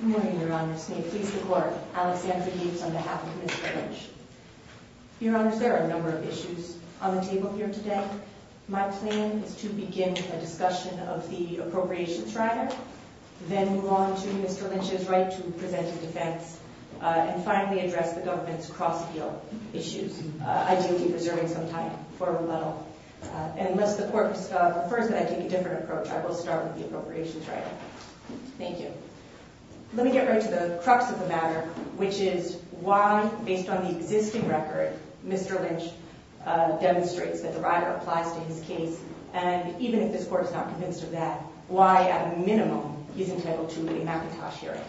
Good morning, Your Honors. May it please the Court, Alexandra Deaves on behalf of Mr. Lynch. Your Honors, there are a number of issues on the table here today. My plan is to begin with a discussion of the appropriations rider, then move on to Mr. Lynch's right to present his defense, and finally address the government's cross-field issues, ideally preserving some time for rebuttal. Unless the Court prefers that I take a different approach, I will start with the appropriations rider. Thank you. Let me get right to the crux of the matter, which is why, based on the existing record, Mr. Lynch demonstrates that the rider applies to his case, and even if this Court is not convinced of that, why, at a minimum, he's entitled to a McIntosh hearing.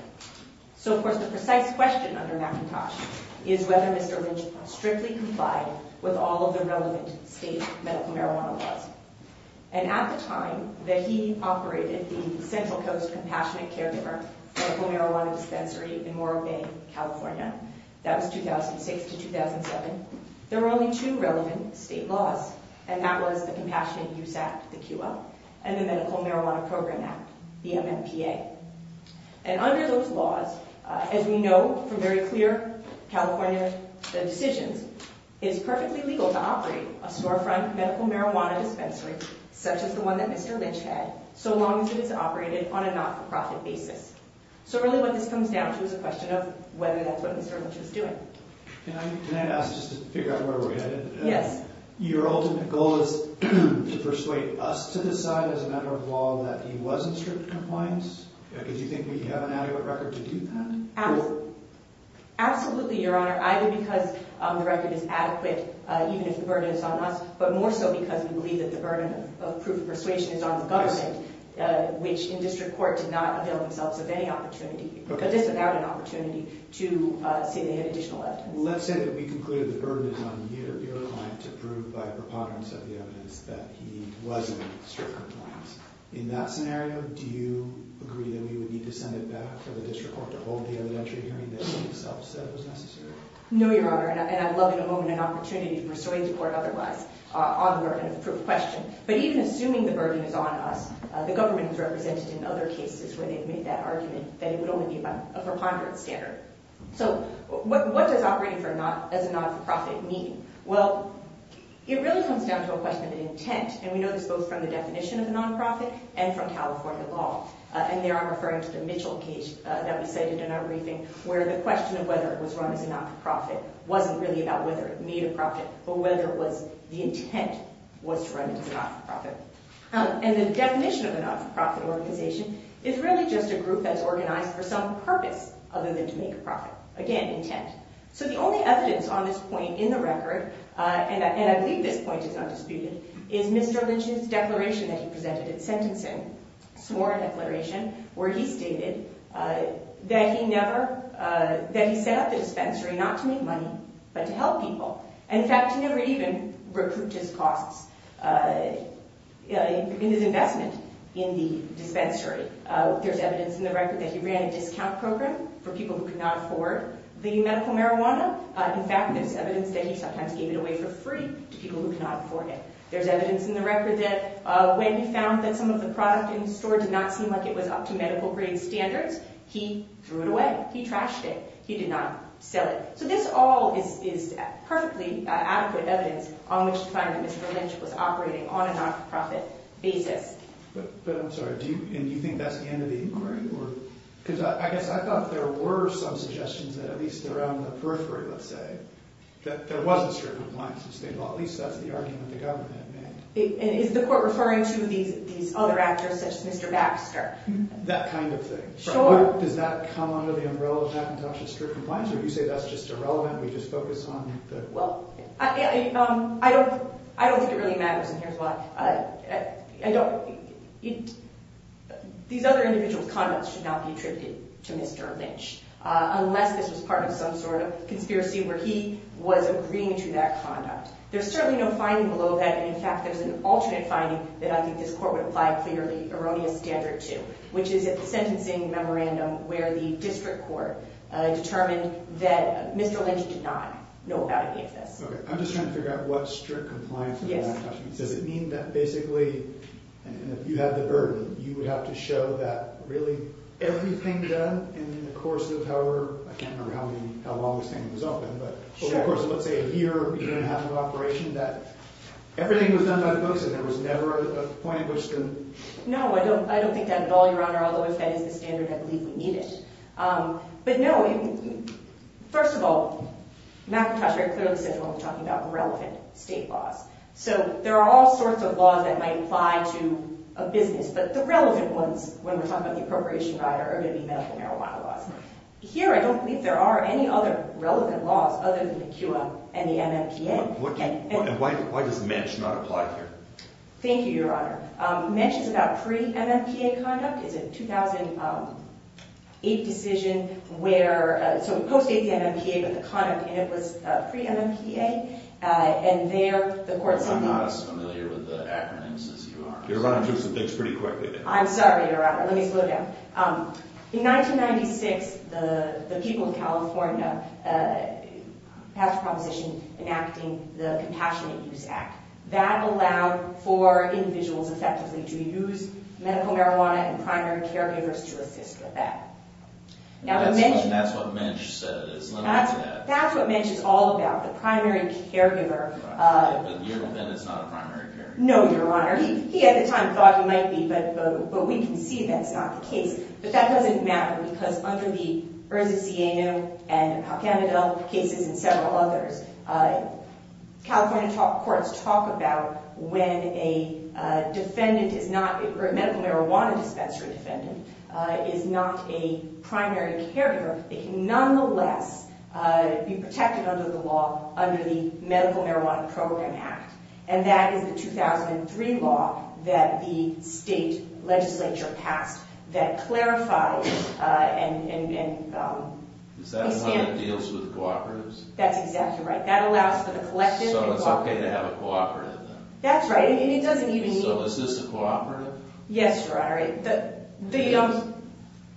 So, of course, the precise question under McIntosh is whether Mr. Lynch strictly complied with all of the relevant state medical marijuana laws. And at the time that he operated the Central Coast Compassionate Caregiver medical marijuana dispensary in Moore Bay, California, that was 2006 to 2007, there were only two relevant state laws, and that was the Compassionate Use Act, the QL, and the Medical Marijuana Program Act, the MMPA. And under those laws, as we know from very clear California decisions, it is perfectly legal to operate a storefront medical marijuana dispensary, such as the one that Mr. Lynch had, so long as it is operated on a not-for-profit basis. So really what this comes down to is a question of whether that's what Mr. Lynch was doing. Can I ask, just to figure out where we're headed? Yes. Your ultimate goal is to persuade us to decide, as a matter of law, that he was in strict compliance? Do you think we have an adequate record to do that? Absolutely, Your Honor. Either because the record is adequate, even if the burden is on us, but more so because we believe that the burden of proof of persuasion is on the government, which in district court did not avail themselves of any opportunity, but just without an opportunity to say they had additional evidence. Let's say that we conclude that the burden is on your client to prove by preponderance of the evidence that he was in strict compliance. In that scenario, do you agree that we would need to send it back to the district court to hold the evidentiary hearing that he himself said was necessary? No, Your Honor, and I'd love in a moment an opportunity to persuade the court otherwise on the burden of proof question. But even assuming the burden is on us, the government has represented in other cases where they've made that argument that it would only be by a preponderance standard. So what does operating as a not-for-profit mean? Well, it really comes down to a question of intent, and we know this both from the definition of a non-profit and from California law. And there I'm referring to the Mitchell case that was cited in our briefing, where the question of whether it was run as a not-for-profit wasn't really about whether it made a profit, but whether the intent was to run it as a not-for-profit. And the definition of a not-for-profit organization is really just a group that's organized for some purpose other than to make a profit. Again, intent. So the only evidence on this point in the record, and I believe this point is not disputed, is Mr. Lynch's declaration that he presented at sentencing. A sworn declaration where he stated that he set up the dispensary not to make money but to help people. In fact, he never even recouped his costs in his investment in the dispensary. There's evidence in the record that he ran a discount program for people who could not afford the medical marijuana. In fact, there's evidence that he sometimes gave it away for free to people who could not afford it. There's evidence in the record that when he found that some of the product in the store did not seem like it was up to medical grade standards, he threw it away. He trashed it. He did not sell it. So this all is perfectly adequate evidence on which to find that Mr. Lynch was operating on a not-for-profit basis. But I'm sorry, do you think that's the end of the inquiry? Because I guess I thought there were some suggestions that at least around the periphery, let's say, that there wasn't strict compliance. Well, at least that's the argument the government made. Is the court referring to these other actors such as Mr. Baxter? That kind of thing. Sure. Does that come under the umbrella of patent-option-strict compliance, or do you say that's just irrelevant and we just focus on the… Well, I don't think it really matters, and here's why. These other individuals' conducts should not be attributed to Mr. Lynch unless this was part of some sort of conspiracy where he was agreeing to that conduct. There's certainly no finding below that. In fact, there's an alternate finding that I think this court would apply clearly erroneous standard to, which is at the sentencing memorandum where the district court determined that Mr. Lynch did not know about any of this. Okay. I'm just trying to figure out what strict compliance means. Does it mean that basically, if you had the burden, you would have to show that really everything done in the course of however… I can't remember how long this thing was open, but of course, let's say a year or a year and a half of operation, that everything was done by the books and there was never a point at which to… No, I don't think that at all, Your Honor, although if that is the standard, I believe we need it. But no, first of all, McIntosh very clearly said he wasn't talking about irrelevant state laws. So there are all sorts of laws that might apply to a business, but the relevant ones, when we're talking about the appropriation rider, are going to be medical marijuana laws. Here, I don't believe there are any other relevant laws other than the CUA and the MMPA. And why does MENSH not apply here? Thank you, Your Honor. MENSH is about pre-MMPA conduct. It's a 2008 decision where… So it postdates the MMPA, but the conduct in it was pre-MMPA, and there the court said… I'm not as familiar with the acronyms as you are. You're running through some things pretty quickly there. I'm sorry, Your Honor. Let me slow down. In 1996, the people of California passed a proposition enacting the Compassionate Use Act. That allowed for individuals, effectively, to use medical marijuana and primary caregivers to assist with that. That's what MENSH said. It's limited to that. That's what MENSH is all about, the primary caregiver. Right, but you're saying it's not a primary caregiver. No, Your Honor. He, at the time, thought it might be, but we can see that it's not the case. But that doesn't matter because under the Urza Siena and Al-Kamadel cases and several others, California courts talk about when a defendant is not… or a medical marijuana dispensary defendant is not a primary caregiver, they can nonetheless be protected under the law under the Medical Marijuana Program Act. And that is the 2003 law that the state legislature passed that clarifies and… Is that the one that deals with cooperatives? That's exactly right. That allows for the collective… So it's okay to have a cooperative, then? That's right, and it doesn't even mean… So is this a cooperative? Yes, Your Honor.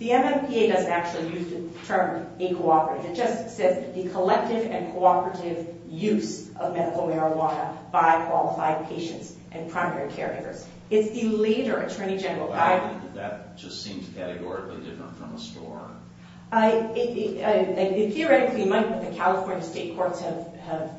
The MMPA doesn't actually use the term a cooperative. It just says the Collective and Cooperative Use of Medical Marijuana by Qualified Patients and Primary Caregivers. It's the later attorney general… But I mean, that just seems categorically different from a store. Theoretically, it might, but the California state courts have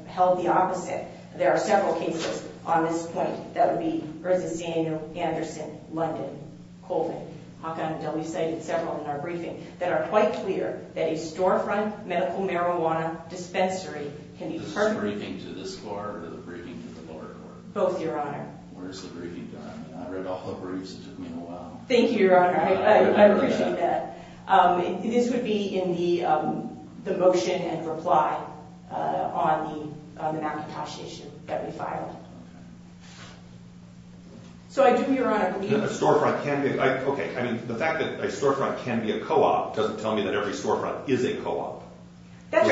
held the opposite. There are several cases on this point, that would be Urza Siena, Anderson, London, Colvin, Al-Kamadel, we cited several in our briefing, that are quite clear that a storefront medical marijuana dispensary can be… Is this a briefing to this court or a briefing to the lower court? Both, Your Honor. Where's the briefing done? I read all the briefs. It took me a while. Thank you, Your Honor. I appreciate that. This would be in the motion and reply on the McIntosh issue that we filed. So I do, Your Honor, believe… Okay, I mean, the fact that a storefront can be a co-op doesn't tell me that every storefront is a co-op. Those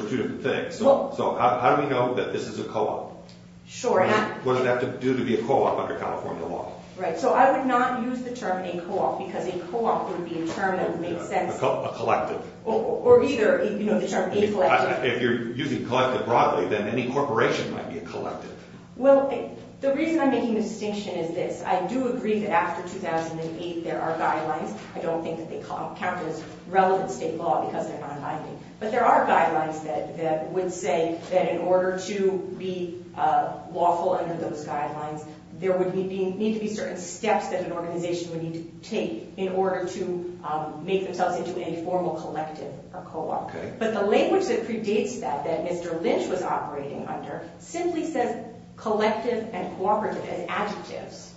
are two different things. So how do we know that this is a co-op? Sure. What does it have to do to be a co-op under California law? Right, so I would not use the term a co-op, because a co-op would be a term that would make sense. A collective. Or either, you know, the term a collective. If you're using collective broadly, then any corporation might be a collective. Well, the reason I'm making the distinction is this. I do agree that after 2008, there are guidelines. I don't think that they count as relevant state law, because they're not binding. But there are guidelines that would say that in order to be lawful under those guidelines, there would need to be certain steps that an organization would need to take in order to make themselves into a formal collective or co-op. But the language that predates that, that Mr. Lynch was operating under, simply says collective and cooperative as adjectives.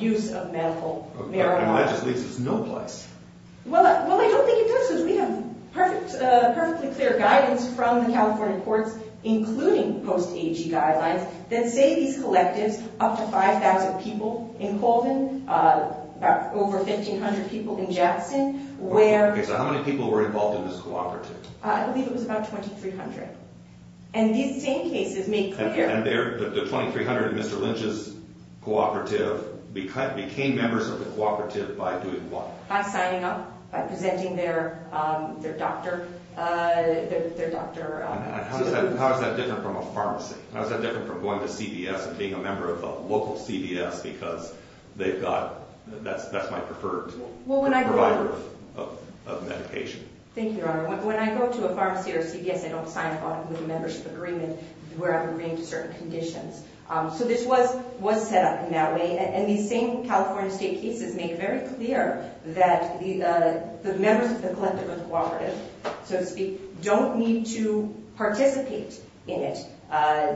Use of medical marijuana. And that just leaves us no place. Well, I don't think it does, because we have perfectly clear guidance from the California courts, including post-AG guidelines, that say these collectives, up to 5,000 people in Colvin, over 1,500 people in Jackson. Okay, so how many people were involved in this cooperative? I believe it was about 2,300. And these same cases make clear... And the 2,300 Mr. Lynch's cooperative became members of the cooperative by doing what? By signing up, by presenting their doctor... How is that different from a pharmacy? How is that different from going to CVS and being a member of a local CVS, because they've got... Well, when I go... Provider of medication. Thank you, Your Honor. When I go to a pharmacy or CVS, I don't sign up with a membership agreement where I'm agreeing to certain conditions. So this was set up in that way. And these same California state cases make it very clear that the members of the collective or the cooperative, so to speak, don't need to participate in it.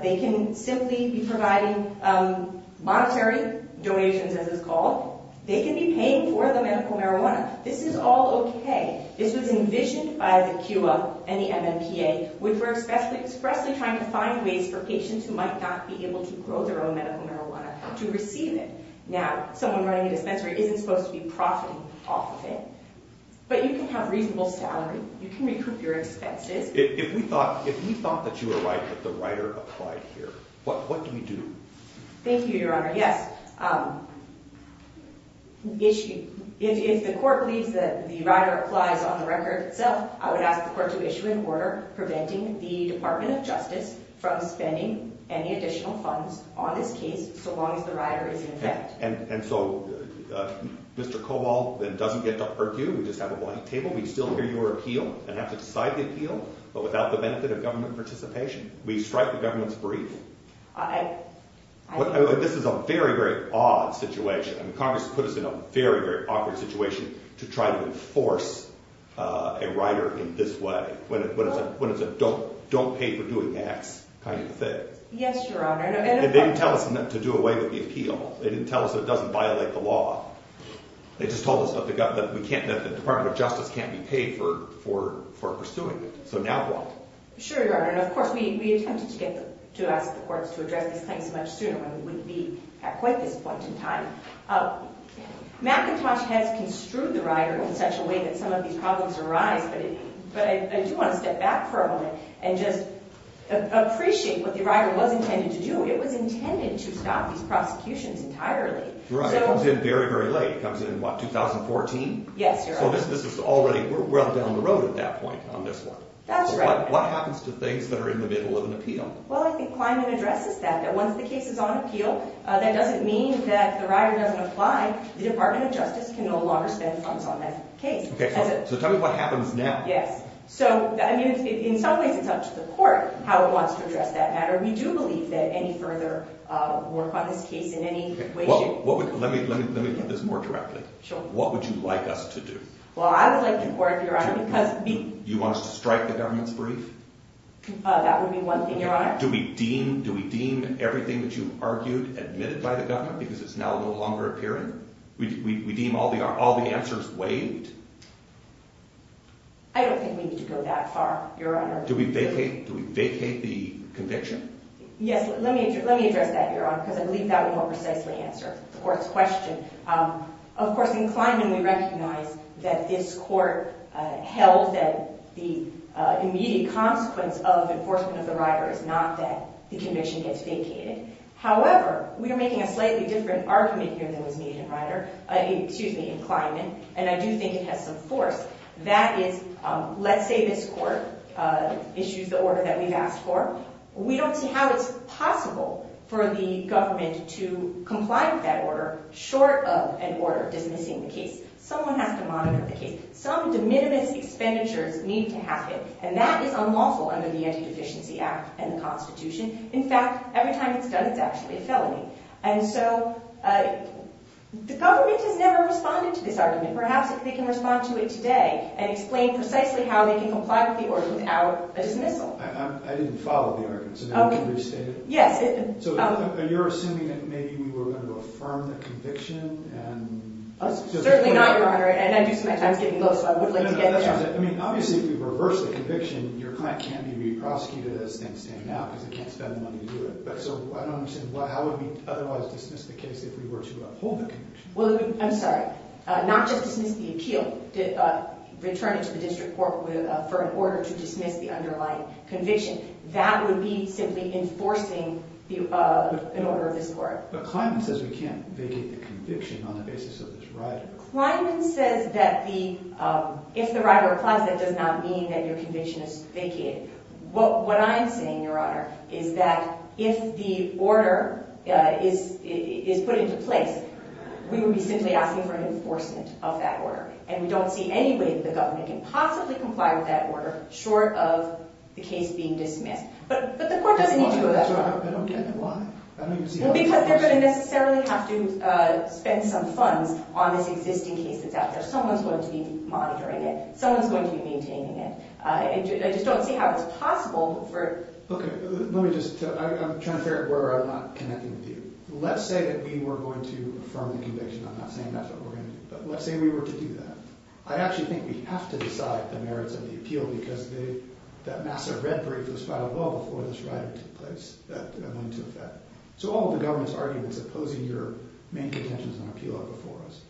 They can simply be providing monetary donations, as it's called. They can be paying for the medical marijuana. This is all okay. This was envisioned by the QA and the MMPA, which were expressly trying to find ways for patients who might not be able to grow their own medical marijuana to receive it. Now, someone running a dispensary isn't supposed to be profiting off of it. But you can have reasonable salary. You can recoup your expenses. If we thought that you were right that the writer applied here, what do we do? Thank you, Your Honor. Yes, if the court believes that the writer applies on the record itself, I would ask the court to issue an order preventing the Department of Justice from spending any additional funds on this case so long as the writer is in effect. And so Mr. Cobol then doesn't get to argue. We just have a blank table. We still hear your appeal and have to decide the appeal, but without the benefit of government participation. We strike the government's brief. This is a very, very odd situation. Congress put us in a very, very awkward situation to try to enforce a writer in this way, when it's a don't pay for doing X kind of thing. Yes, Your Honor. And they didn't tell us to do away with the appeal. They didn't tell us it doesn't violate the law. They just told us that the Department of Justice can't be paid for pursuing it. So now what? Sure, Your Honor. And of course, we attempted to ask the courts to address these claims much sooner when we would be at quite this point in time. McIntosh has construed the writer in such a way that some of these problems arise, but I do want to step back for a moment and just appreciate what the writer was intended to do. It was intended to stop these prosecutions entirely. Right. It comes in very, very late. It comes in, what, 2014? Yes, Your Honor. So this was already well down the road at that point on this one. That's right. So what happens to things that are in the middle of an appeal? Well, I think Kleinman addresses that, that once the case is on appeal, that doesn't mean that the writer doesn't apply. The Department of Justice can no longer spend funds on that case. Okay, so tell me what happens now. Yes. So, I mean, in some ways it's up to the court how it wants to address that matter. We do believe that any further work on this case in any way should… Let me get this more directly. Sure. What would you like us to do? Well, I would like the court, Your Honor, because… You want us to strike the government's brief? That would be one thing, Your Honor. Do we deem everything that you've argued admitted by the government because it's now no longer appearing? We deem all the answers waived? I don't think we need to go that far, Your Honor. Do we vacate the conviction? Yes, let me address that, Your Honor, because I believe that would more precisely answer the court's question. Of course, in Kleiman we recognize that this court held that the immediate consequence of enforcement of the writer is not that the conviction gets vacated. However, we are making a slightly different argument here than was made in Kleiman, and I do think it has some force. That is, let's say this court issues the order that we've asked for. We don't see how it's possible for the government to comply with that order short of an order dismissing the case. Someone has to monitor the case. Some de minimis expenditures need to happen, and that is unlawful under the Anti-Deficiency Act and the Constitution. In fact, every time it's done, it's actually a felony. And so the government has never responded to this argument. Perhaps if they can respond to it today and explain precisely how they can comply with the order without a dismissal. I didn't follow the argument, so now I can restate it? Yes. So you're assuming that maybe we were going to affirm the conviction and just— Certainly not, Your Honor, and I do see my time is getting low, so I would like to get there. No, no, that's not what I said. I mean, obviously, if we reverse the conviction, your client can be re-prosecuted as things stand now because they can't spend the money to do it. But so I don't understand. How would we otherwise dismiss the case if we were to uphold the conviction? I'm sorry. Not just dismiss the appeal. Return it to the district court for an order to dismiss the underlying conviction. That would be simply enforcing an order of this court. But Kleiman says we can't vacate the conviction on the basis of this right. Kleiman says that if the right applies, that does not mean that your conviction is vacated. What I'm saying, Your Honor, is that if the order is put into place, we would be simply asking for an enforcement of that order, and we don't see any way that the government can possibly comply with that order short of the case being dismissed. But the court doesn't need to do that, Your Honor. I don't get it. Why? Because they're going to necessarily have to spend some funds on this existing case that's out there. Someone's going to be monitoring it. Someone's going to be maintaining it. I just don't see how it's possible for – Okay. Let me just – I'm trying to figure out where I'm not connecting with you. Let's say that we were going to affirm the conviction. I'm not saying that's what we're going to do. But let's say we were to do that. I actually think we have to decide the merits of the appeal because that massive red brief was filed well before this right took place that went into effect. So all of the government's arguments opposing your main intentions and appeal are before us.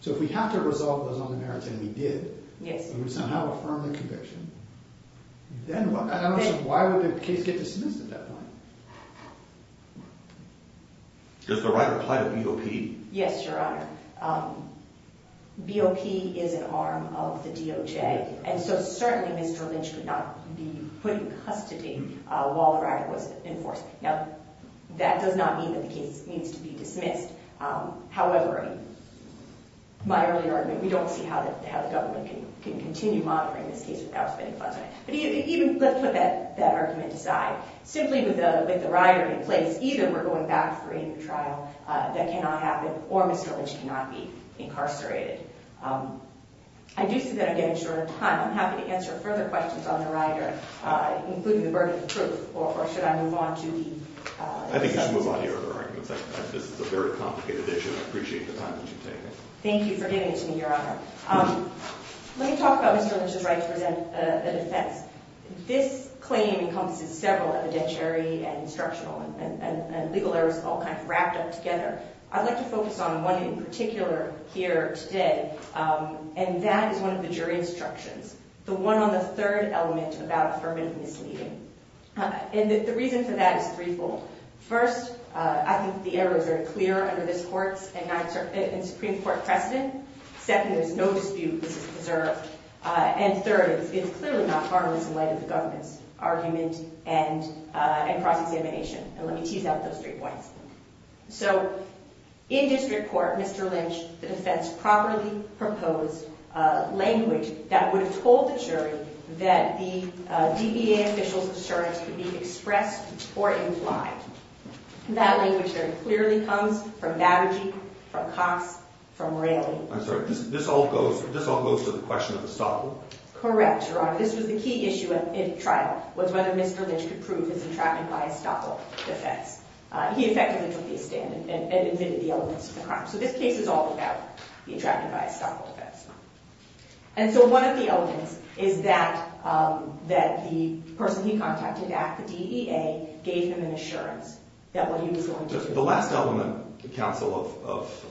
So if we have to resolve those other merits, and we did – Yes. If we would somehow affirm the conviction, then – I don't understand. Why would the case get dismissed at that point? Does the right apply to BOP? Yes, Your Honor. BOP is an arm of the DOJ, and so certainly Mr. Lynch could not be put in custody while the right was enforced. Now, that does not mean that the case needs to be dismissed. However, in my earlier argument, we don't see how the government can continue monitoring this case without spending funds on it. But even – let's put that argument aside. Simply with the rider in place, either we're going back for a new trial. That cannot happen, or Mr. Lynch cannot be incarcerated. I do see that I'm getting short of time. I'm happy to answer further questions on the rider, including the burden of proof, or should I move on to the – I think you should move on to your other arguments. This is a very complicated issue, and I appreciate the time that you've taken. Thank you for giving it to me, Your Honor. Let me talk about Mr. Lynch's right to present a defense. This claim encompasses several, evidentiary and instructional, and legal errors all kind of wrapped up together. I'd like to focus on one in particular here today, and that is one of the jury instructions, the one on the third element about affirmative misleading. And the reason for that is threefold. First, I think the errors are clear under this Court's and Supreme Court precedent. Second, there's no dispute this is preserved. And third, it's clearly not harmless in light of the government's argument and cross-examination. And let me tease out those three points. So in district court, Mr. Lynch, the defense properly proposed language that would have told the jury that the DBA official's assertions could be expressed or implied. And that language very clearly comes from Babergeek, from Cox, from Raley. I'm sorry, this all goes to the question of the stopper? Correct, Your Honor. This was the key issue in trial, was whether Mr. Lynch could prove his entrapment by a stopper defense. He effectively took the stand and admitted the elements of the crime. So this case is all about the entrapment by a stopper defense. And so one of the elements is that the person he contacted at the DEA gave him an assurance that what he was going to do. The last element, counsel,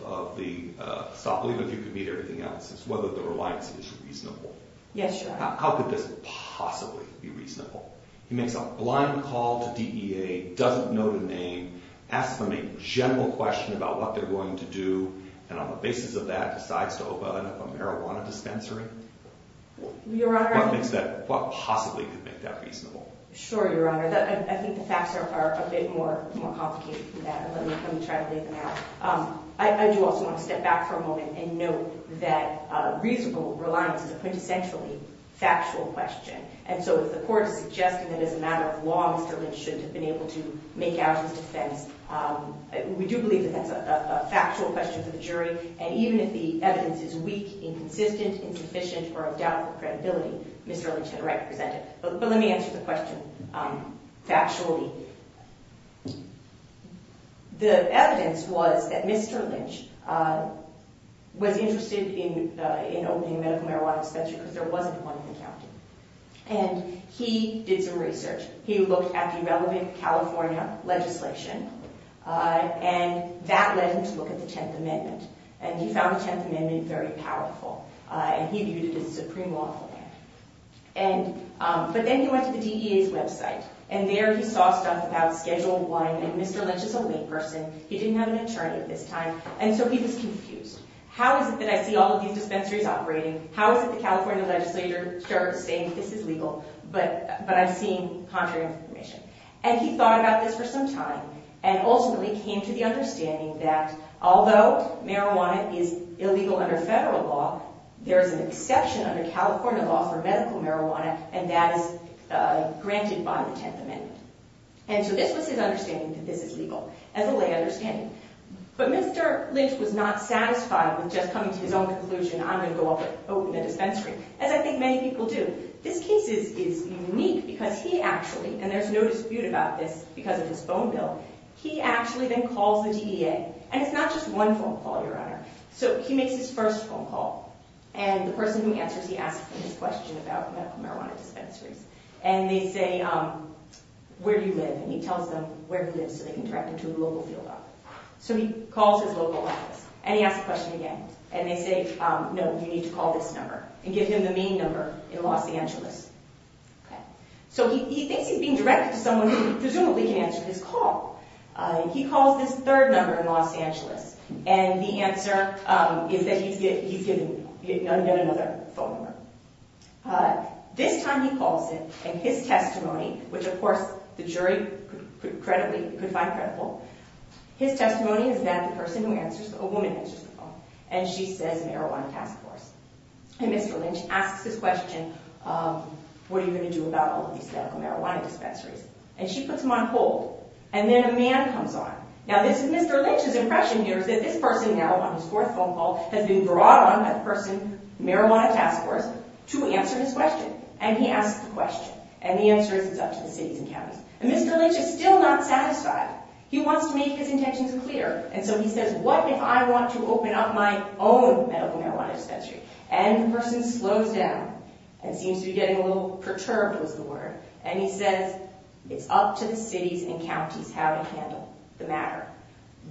of the stopper, even if you could meet everything else, is whether the reliance is reasonable. Yes, Your Honor. How could this possibly be reasonable? He makes a blind call to DEA, doesn't know the name, asks them a general question about what they're going to do, and on the basis of that decides to open a marijuana dispensary? Your Honor. What possibly could make that reasonable? Sure, Your Honor. I think the facts are a bit more complicated than that. Let me try to lay them out. I do also want to step back for a moment and note that reasonable reliance is a quintessentially factual question. And so if the court is suggesting that as a matter of law Mr. Lynch shouldn't have been able to make out his defense, we do believe that that's a factual question for the jury, and even if the evidence is weak, inconsistent, insufficient, or of doubtful credibility, Mr. Lynch had a right to present it. But let me answer the question factually. The evidence was that Mr. Lynch was interested in opening a medical marijuana dispensary because there wasn't one in the county. And he did some research. He looked at the relevant California legislation, and that led him to look at the Tenth Amendment. And he found the Tenth Amendment very powerful, and he viewed it as a supreme law. But then he went to the DEA's website, and there he saw stuff about scheduled wine, and Mr. Lynch is a layperson. He didn't have an attorney at this time, and so he was confused. How is it that I see all of these dispensaries operating? How is it the California legislature is saying this is legal, but I'm seeing contrary information? And he thought about this for some time and ultimately came to the understanding that although marijuana is illegal under federal law, there is an exception under California law for medical marijuana, and that is granted by the Tenth Amendment. And so this was his understanding that this is legal, as a lay understanding. But Mr. Lynch was not satisfied with just coming to his own conclusion, I'm going to go up and open the dispensary, as I think many people do. This case is unique because he actually—and there's no dispute about this because of his phone bill—he actually then calls the DEA. And it's not just one phone call, Your Honor. So he makes his first phone call, and the person who answers he asks him this question about medical marijuana dispensaries. And they say, where do you live? And he tells them where he lives so they can direct him to a local field office. So he calls his local office, and he asks the question again. And they say, no, you need to call this number, and give him the main number in Los Angeles. So he thinks he's being directed to someone who presumably can answer his call. He calls this third number in Los Angeles, and the answer is that he's getting another phone number. This time he calls him, and his testimony—which, of course, the jury could find credible—his testimony is that the person who answers, a woman answers the call. And she says marijuana task force. And Mr. Lynch asks this question, what are you going to do about all of these medical marijuana dispensaries? And she puts him on hold. And then a man comes on. Now, Mr. Lynch's impression here is that this person now, on his fourth phone call, has been brought on by the person, marijuana task force, to answer his question. And he asks the question. And the answer is it's up to the cities and counties. And Mr. Lynch is still not satisfied. He wants to make his intentions clear. And so he says, what if I want to open up my own medical marijuana dispensary? And the person slows down and seems to be getting a little perturbed, was the word. And he says, it's up to the cities and counties how to handle the matter.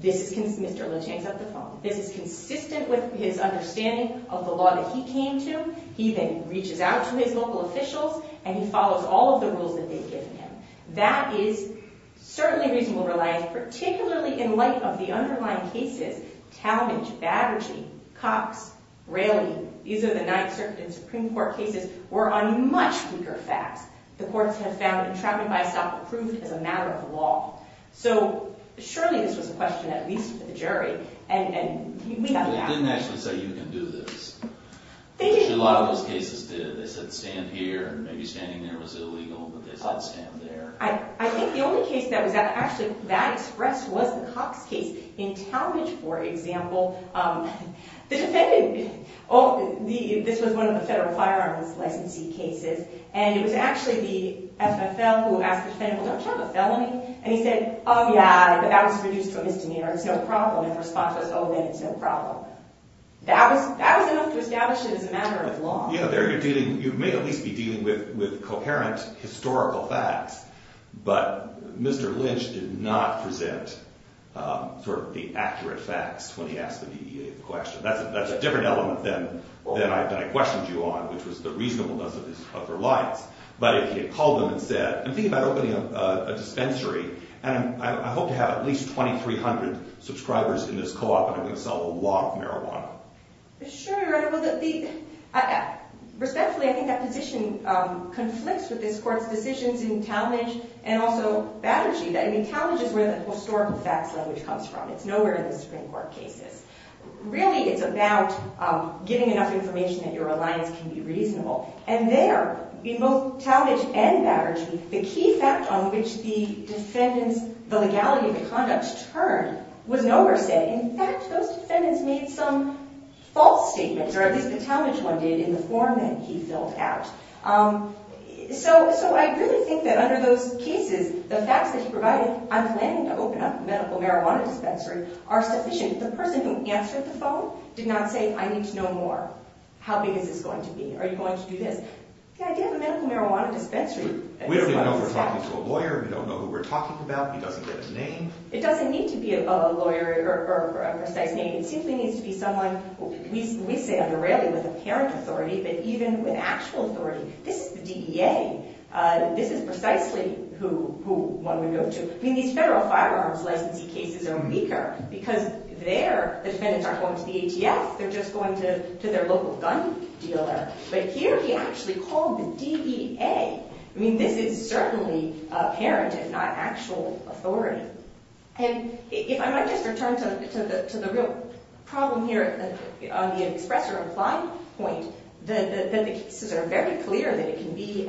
Mr. Lynch hangs up the phone. This is consistent with his understanding of the law that he came to. He then reaches out to his local officials, and he follows all of the rules that they've given him. That is certainly reasonable reliance, particularly in light of the underlying cases. Talmadge, Baberge, Cox, Braley—these are the Ninth Circuit and Supreme Court cases—were on much weaker facts. The courts have found entrapped by self-approved as a matter of law. So surely this was a question at least for the jury. And we have that. They didn't actually say, you can do this. A lot of those cases did. They said, stand here. And maybe standing there was illegal. But they said, I'll stand there. I think the only case that was actually that expressed was the Cox case. In Talmadge, for example, the defendant—this was one of the federal firearms licensee cases. And it was actually the FFL who asked the defendant, well, don't you have a felony? And he said, oh, yeah, but that was reduced to a misdemeanor. It's no problem. And the response was, oh, then it's no problem. That was enough to establish it as a matter of law. Yeah, you may at least be dealing with coherent historical facts. But Mr. Lynch did not present sort of the accurate facts when he asked the question. That's a different element than I questioned you on, which was the reasonableness of reliance. But he had called them and said, I'm thinking about opening a dispensary. And I hope to have at least 2,300 subscribers in this co-op. And I'm going to sell a lot of marijuana. Sure, Your Honor. Respectfully, I think that position conflicts with this Court's decisions in Talmadge and also Battersea. I mean, Talmadge is where the historical facts language comes from. It's nowhere in the Supreme Court cases. Really, it's about getting enough information that your reliance can be reasonable. And there, in both Talmadge and Battersea, the key fact on which the defendants, the legality of the conduct turned was nowhere said. In fact, those defendants made some false statements, or at least the Talmadge one did, in the form that he filled out. So I really think that under those cases, the facts that he provided, I'm planning to open up a medical marijuana dispensary, are sufficient. The person who answered the phone did not say, I need to know more. How big is this going to be? Are you going to do this? Yeah, I did have a medical marijuana dispensary. We don't even know if we're talking to a lawyer. We don't know who we're talking about. He doesn't get a name. It doesn't need to be a lawyer or a precise name. It simply needs to be someone, we say under Rayleigh, with apparent authority, but even with actual authority. This is the DEA. This is precisely who one would go to. I mean, these federal firearms licensee cases are weaker, because the defendants aren't going to the ATF. They're just going to their local gun dealer. But here he actually called the DEA. I mean, this is certainly apparent, if not actual authority. And if I might just return to the real problem here on the express or implied point, that the cases are very clear that it can be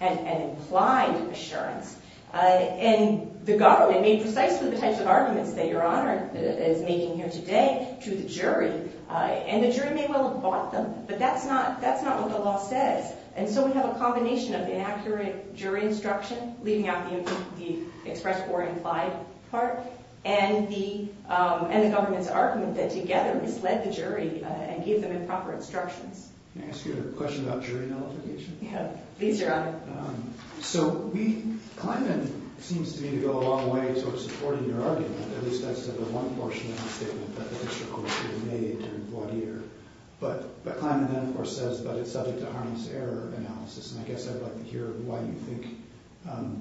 an implied assurance. And the government made precisely the types of arguments that Your Honor is making here today to the jury. And the jury may well have bought them, but that's not what the law says. And so we have a combination of inaccurate jury instruction, leaving out the express or implied part, and the government's argument that together misled the jury and gave them improper instructions. May I ask you a question about jury nullification? Yeah, please, Your Honor. So we – Kleinman seems to me to go a long way towards supporting your argument. At least that's the one portion of the statement that the district court jury made during voir dire. But Kleinman then, of course, says that it's subject to harmless error analysis. And I guess I'd like to hear why you think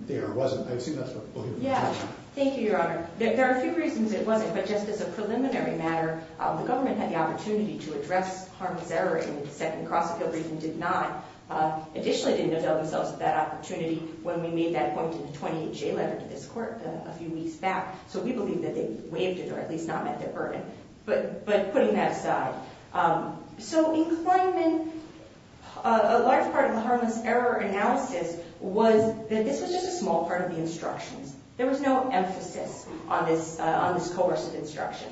the error wasn't. I assume that's what we'll hear from the judge on. Yeah. Thank you, Your Honor. There are a few reasons it wasn't. But just as a preliminary matter, the government had the opportunity to address harmless error in the second cross-appeal briefing. Kleinman did not – additionally didn't avail themselves of that opportunity when we made that point in the 28-J letter to this court a few weeks back. So we believe that they waived it or at least not met their burden. But putting that aside, so in Kleinman, a large part of the harmless error analysis was that this was just a small part of the instructions. There was no emphasis on this coercive instruction.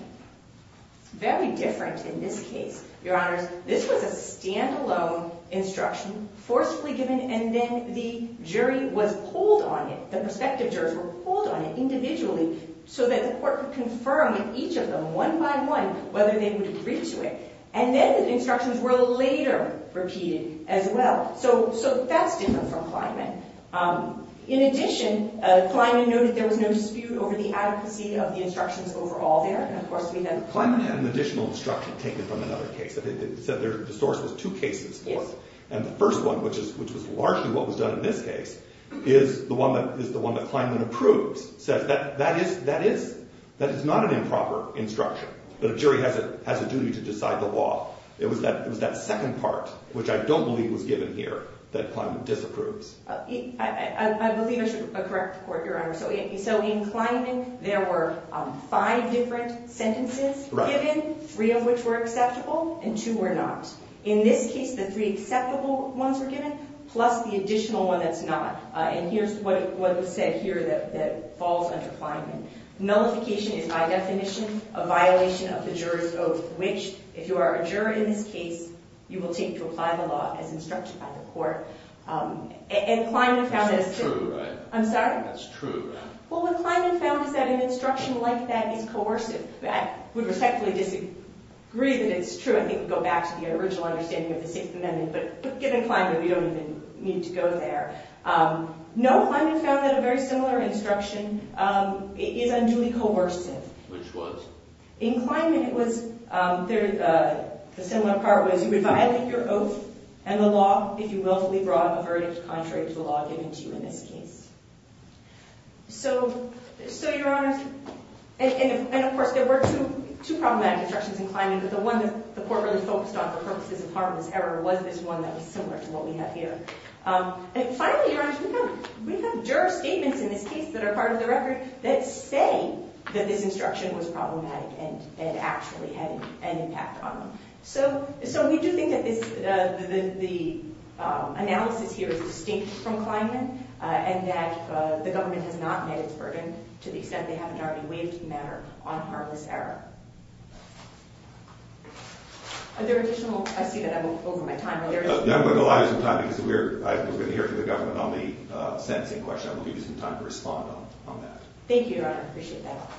Very different in this case, Your Honors. This was a standalone instruction, forcefully given, and then the jury was pulled on it. The prospective jurors were pulled on it individually so that the court could confirm with each of them one by one whether they would agree to it. And then the instructions were later repeated as well. So that's different from Kleinman. In addition, Kleinman noted there was no dispute over the adequacy of the instructions overall there. Kleinman had an additional instruction taken from another case. It said the source was two cases forth. And the first one, which was largely what was done in this case, is the one that Kleinman approves. That is not an improper instruction. The jury has a duty to decide the law. It was that second part, which I don't believe was given here, that Kleinman disapproves. I believe I should correct the court, Your Honor. So in Kleinman, there were five different sentences given, three of which were acceptable and two were not. In this case, the three acceptable ones were given, plus the additional one that's not. And here's what was said here that falls under Kleinman. Nullification is by definition a violation of the juror's oath, which, if you are a juror in this case, you will take to apply the law as instructed by the court. And Kleinman found that as true. That's true, right? I'm sorry? That's true, right? Well, what Kleinman found is that an instruction like that is coercive. I would respectfully disagree that it's true. I think we go back to the original understanding of the Sixth Amendment. But given Kleinman, we don't even need to go there. No, Kleinman found that a very similar instruction is unduly coercive. Which was? In Kleinman, the similar part was you would violate your oath and the law if you willfully brought a verdict contrary to the law given to you in this case. So, Your Honors, and of course, there were two problematic instructions in Kleinman. But the one that the court really focused on for purposes of harmless error was this one that was similar to what we have here. And finally, Your Honors, we have juror statements in this case that are part of the record that say that this instruction was problematic and actually had an impact on them. So we do think that the analysis here is distinct from Kleinman and that the government has not met its burden to the extent they haven't already waived the matter on harmless error. Are there additional? I see that I'm over my time. I'm going to allow you some time because we're going to hear from the government on the sentencing question. I will give you some time to respond on that. Thank you, Your Honor. I appreciate that.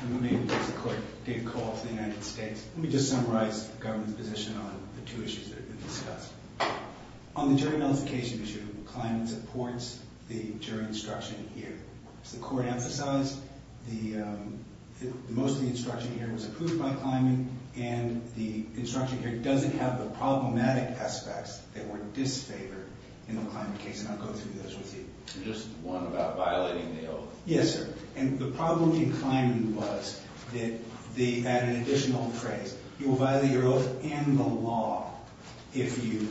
I'm going to make a quick data call to the United States. Let me just summarize the government's position on the two issues that have been discussed. On the jury notification issue, Kleinman supports the jury instruction here. As the court emphasized, most of the instruction here was approved by Kleinman, and the instruction here doesn't have the problematic aspects that were disfavored in the Kleinman case. And I'll go through those with you. Just one about violating the oath. Yes, sir. And the problem in Kleinman was that at an additional phrase, you will violate your oath and the law if you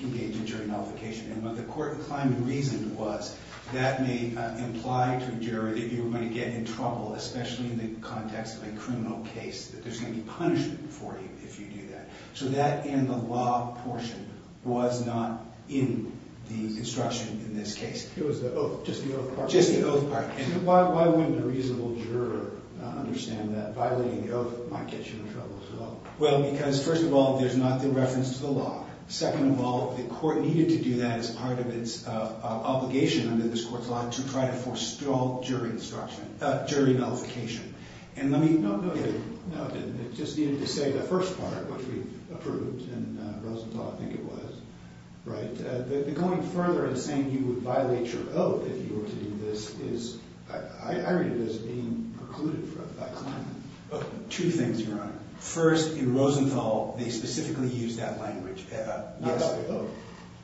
engage in jury notification. And what the court in Kleinman reasoned was that may imply to a juror that you're going to get in trouble, especially in the context of a criminal case, that there's going to be punishment for you if you do that. So that and the law portion was not in the instruction in this case. It was the oath, just the oath part. And why wouldn't a reasonable juror understand that violating the oath might get you in trouble as well? Well, because, first of all, there's not the reference to the law. Second of all, the court needed to do that as part of its obligation under this court's law to try to forestall jury instruction – jury notification. And let me – no, no, no. It just needed to say the first part, which we've approved, and Rosenthal, I think it was. Right. Going further and saying you would violate your oath if you were to do this is – I read it as being precluded from Kleinman. Two things, Your Honor. First, in Rosenthal, they specifically used that language. Not the oath.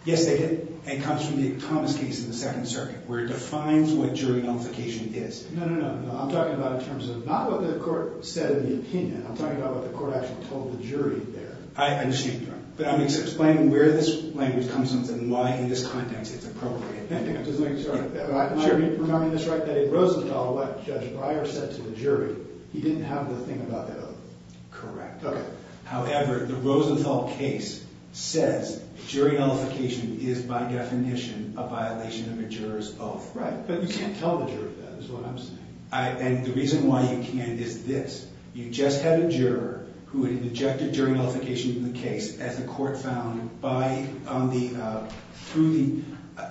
Yes, they did. And it comes from the Thomas case in the Second Circuit, where it defines what jury notification is. No, no, no. I'm talking about in terms of not what the court said in the opinion. I'm talking about what the court actually told the jury there. I understand, Your Honor. But I'm just explaining where this language comes from and why in this context it's appropriate. I'm just making sure. Sure. Am I remembering this right? That in Rosenthal, what Judge Breyer said to the jury, he didn't have the thing about the oath. Correct. Okay. However, the Rosenthal case says jury notification is by definition a violation of a juror's oath. Right. But you can't tell the juror that is what I'm saying. And the reason why you can't is this. You just had a juror who had injected jury notification into the case, as the court found through the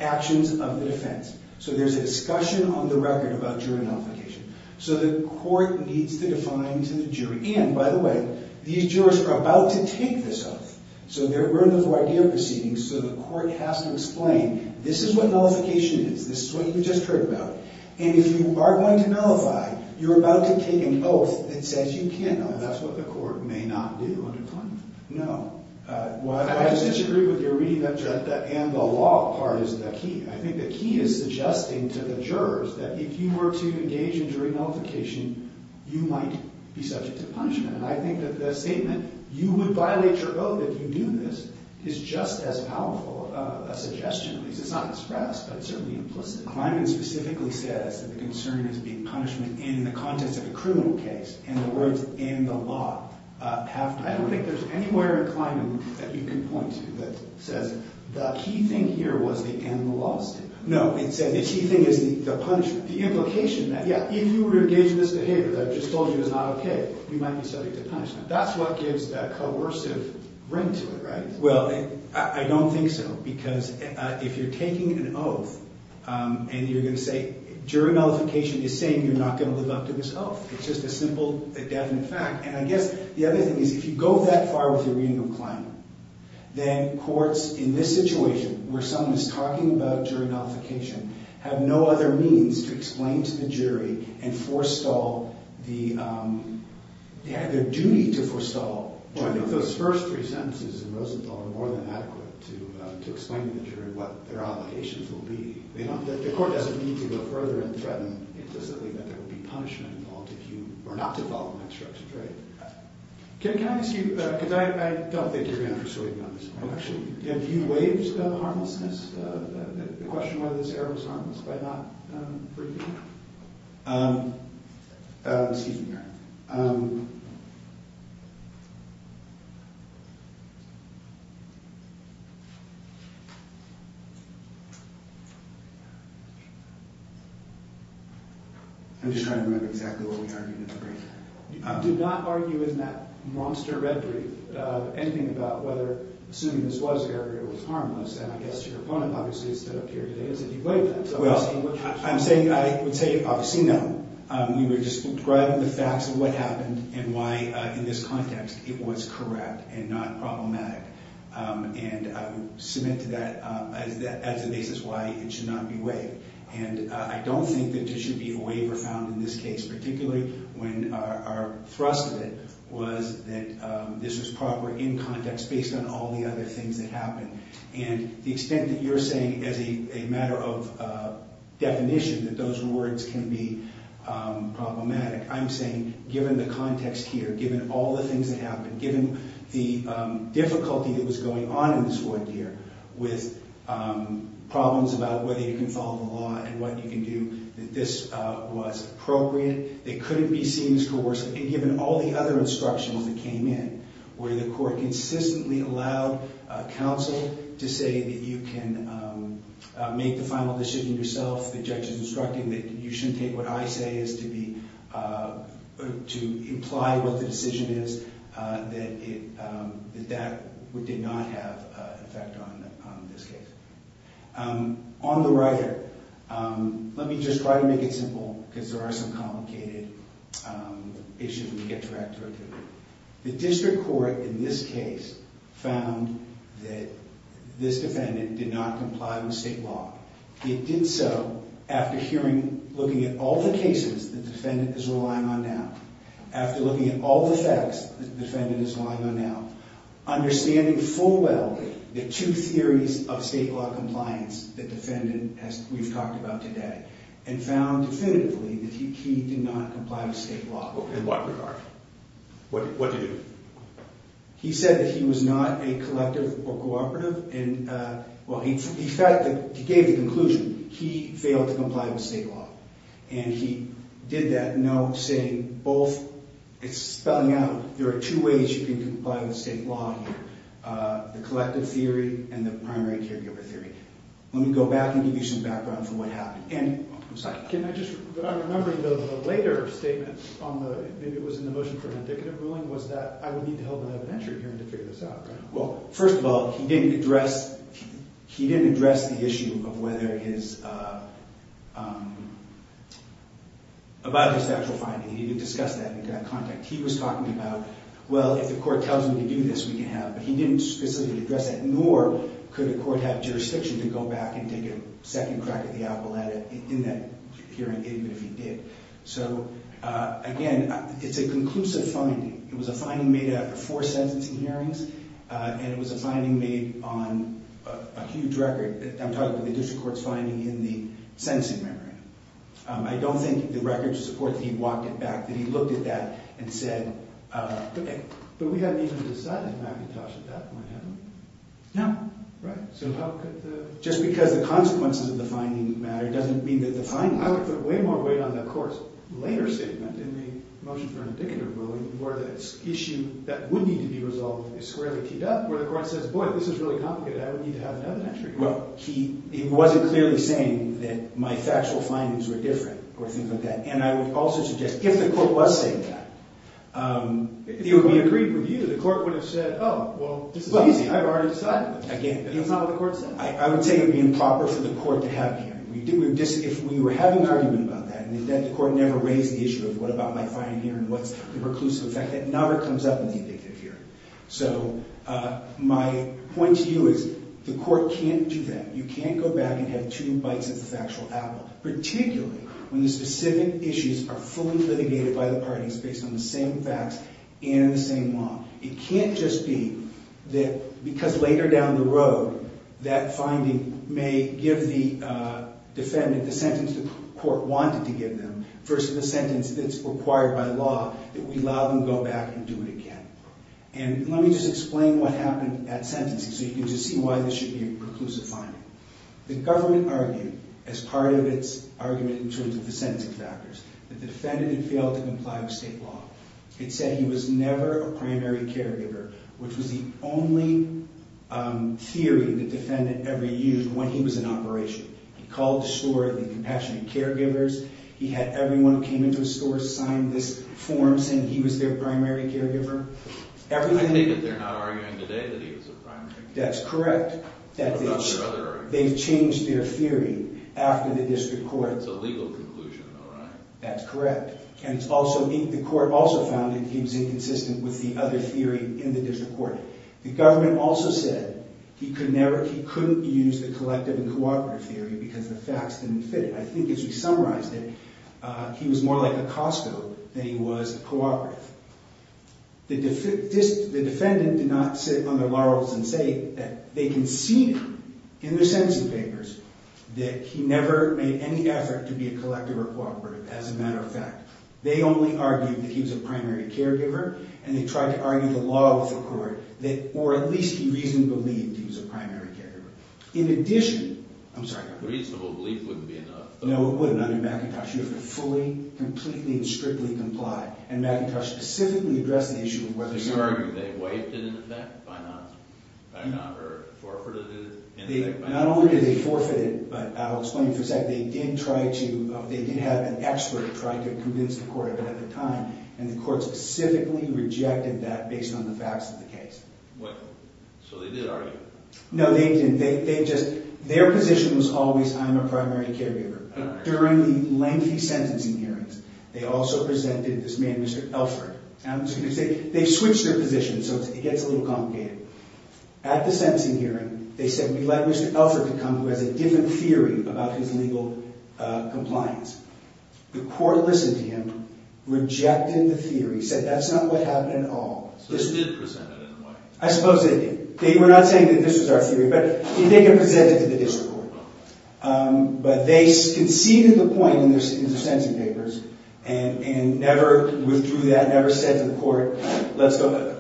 actions of the defense. So there's a discussion on the record about jury notification. So the court needs to define to the jury. And, by the way, these jurors are about to take this oath. So there were no idea proceedings. So the court has to explain, this is what notification is. This is what you just heard about. And if you are going to nullify, you're about to take an oath that says you can't nullify. That's what the court may not do under climate. No. I just disagree with your reading that the law part is the key. I think the key is suggesting to the jurors that if you were to engage in jury notification, you might be subject to punishment. And I think that the statement, you would violate your oath if you do this, is just as powerful a suggestion, at least. It's not expressed, but it's certainly implicit. Climate specifically says that the concern is being punishment in the context of a criminal case. And the words, in the law, have- I don't think there's anywhere in climate that you can point to that says the key thing here was the in the law statement. No, it said the key thing is the punishment. The implication that, yeah, if you were to engage in this behavior that I just told you is not okay, you might be subject to punishment. That's what gives that coercive ring to it, right? Well, I don't think so. Because if you're taking an oath and you're going to say- jury notification is saying you're not going to live up to this oath. It's just a simple, definite fact. And I guess the other thing is if you go that far with your reading of climate, then courts, in this situation, where someone is talking about jury notification, have no other means to explain to the jury and forestall the- they have a duty to forestall jury notification. I think those first three sentences in Rosenthal are more than adequate to explain to the jury what their obligations will be. The court doesn't need to go further and threaten implicitly that there will be punishment involved if you were not to follow my instructions, right? Can I ask you- because I don't think you're going to persuade me on this point, actually. Have you waived the harmlessness- the question whether this error was harmless by not briefing? Um, um, excuse me here. I'm just trying to remember exactly what we argued in the brief. You did not argue in that monster red brief anything about whether, assuming this was error, it was harmless. And I guess your opponent obviously has stood up here today as if you waived that. Well, I'm saying- I would say, obviously, no. We were describing the facts of what happened and why, in this context, it was correct and not problematic. And I would submit to that as the basis why it should not be waived. And I don't think that there should be a waiver found in this case, particularly when our thrust of it was that this was proper in context, based on all the other things that happened. And the extent that you're saying, as a matter of definition, that those words can be problematic, I'm saying, given the context here, given all the things that happened, given the difficulty that was going on in this court here with problems about whether you can follow the law and what you can do, that this was appropriate, that it couldn't be seen as coercive, and given all the other instructions that came in, where the court consistently allowed counsel to say that you can make the final decision yourself, the judge is instructing that you shouldn't take what I say as to be- to imply what the decision is, that that did not have an effect on this case. On the right here, let me just try to make it simple, because there are some complicated issues we can get to right through. The district court in this case found that this defendant did not comply with state law. It did so after hearing- looking at all the cases the defendant is relying on now, after looking at all the facts the defendant is relying on now, understanding full well the two theories of state law compliance the defendant has- we've talked about today, and found definitively that he did not comply with state law. In what regard? What did he do? He said that he was not a collective or cooperative, and- well, the fact that he gave the conclusion, he failed to comply with state law. And he did that note saying both- it's spelling out, there are two ways you can comply with state law, the collective theory and the primary caregiver theory. Let me go back and give you some background for what happened. Can I just- I'm remembering the later statement on the- maybe it was in the motion for an indicative ruling, was that I would need to hold an evidentiary hearing to figure this out, right? Well, first of all, he didn't address the issue of whether his- about his actual finding. He didn't discuss that in contact. He was talking about, well, if the court tells him to do this, we can have- but he didn't specifically address that, nor could the court have jurisdiction to go back and take a second crack at the apple in that hearing, even if he did. So, again, it's a conclusive finding. It was a finding made after four sentencing hearings, and it was a finding made on a huge record. I'm talking about the district court's finding in the sentencing memorandum. I don't think the records support that he walked it back, that he looked at that and said, okay. But we hadn't even decided, Mackintosh, that that might happen. No. Right, so how could the- Just because the consequences of the finding matter doesn't mean that the finding- I would put way more weight on the court's later statement in the motion for an indicative ruling, where the issue that would need to be resolved is squarely keyed up, where the court says, boy, this is really complicated. I would need to have another entry. Well, he wasn't clearly saying that my factual findings were different or things like that. And I would also suggest, if the court was saying that, it would be agreed with you. The court would have said, oh, well, this is easy. I've already decided. Again- That's not what the court said. I would say it would be improper for the court to have him. If we were having an argument about that and the court never raised the issue of what about my finding here and what's the preclusive effect, that never comes up in the indicative hearing. So my point to you is the court can't do that. You can't go back and have two bites of the factual apple, particularly when the specific issues are fully litigated by the parties based on the same facts and the same law. It can't just be that because later down the road that finding may give the defendant the sentence the court wanted to give them versus the sentence that's required by law that we allow them to go back and do it again. And let me just explain what happened at sentencing so you can just see why this should be a preclusive finding. The government argued, as part of its argument in terms of the sentencing factors, that the defendant had failed to comply with state law. It said he was never a primary caregiver, which was the only theory the defendant ever used when he was in operation. He called the store the compassionate caregivers. He had everyone who came into his store sign this form saying he was their primary caregiver. I think that they're not arguing today that he was a primary caregiver. That's correct. What about their other arguments? They've changed their theory after the district court. It's a legal conclusion though, right? That's correct. The court also found that he was inconsistent with the other theory in the district court. The government also said he couldn't use the collective and cooperative theory because the facts didn't fit it. I think as we summarized it, he was more like a Costco than he was a cooperative. The defendant did not sit on their laurels and say that they conceded in their sentencing papers that he never made any effort to be a collective or cooperative. As a matter of fact, they only argued that he was a primary caregiver, and they tried to argue the law with the court that, or at least he reasonably believed he was a primary caregiver. In addition, I'm sorry. A reasonable belief wouldn't be enough. No, it wouldn't under McIntosh. You have to fully, completely, and strictly comply. And McIntosh specifically addressed the issue of whether or not. They argued they waived it in effect by not, or forfeited it in effect by not. Not only did they forfeit it, but I'll explain in a second. They did have an expert try to convince the court of it at the time, and the court specifically rejected that based on the facts of the case. So they did argue. No, they didn't. Their position was always, I'm a primary caregiver. During the lengthy sentencing hearings, they also presented this man, Mr. Elford. They switched their positions, so it gets a little complicated. At the sentencing hearing, they said, we'd like Mr. Elford to come, who has a different theory about his legal compliance. The court listened to him, rejected the theory, said that's not what happened at all. So they did present it, in a way. I suppose they did. We're not saying that this was our theory, but they did present it to the district court. But they conceded the point in their sentencing papers, and never withdrew that, never said to the court, let's go.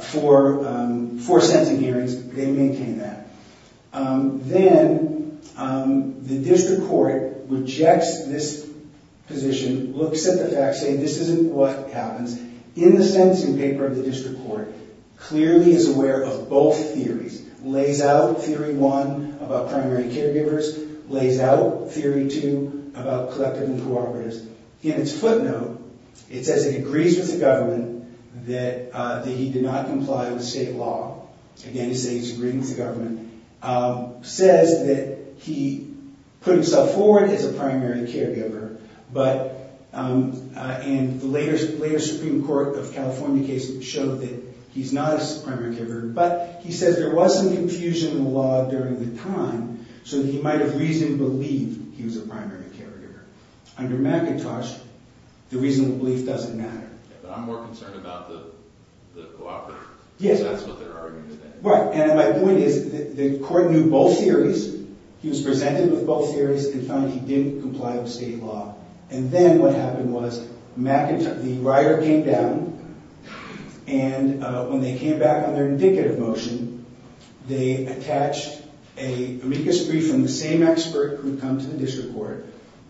For sentencing hearings, they maintained that. Then, the district court rejects this position, looks at the facts, saying this isn't what happens. In the sentencing paper of the district court, clearly is aware of both theories. Lays out theory one about primary caregivers. Lays out theory two about collective and cooperatives. In its footnote, it says it agrees with the government that he did not comply with state law. Again, it says he's agreed with the government. Says that he put himself forward as a primary caregiver. And the later Supreme Court of California case showed that he's not a primary caregiver. But he says there was some confusion in the law during the time, so he might have reasoned to believe he was a primary caregiver. Under McIntosh, the reasonable belief doesn't matter. But I'm more concerned about the cooperative. Yes. Because that's what they're arguing today. Right, and my point is the court knew both theories. He was presented with both theories, and found he didn't comply with state law. And then what happened was McIntosh, the rioter came down, and when they came back on their indicative motion, they attached an amicus brief from the same expert who had come to the district court,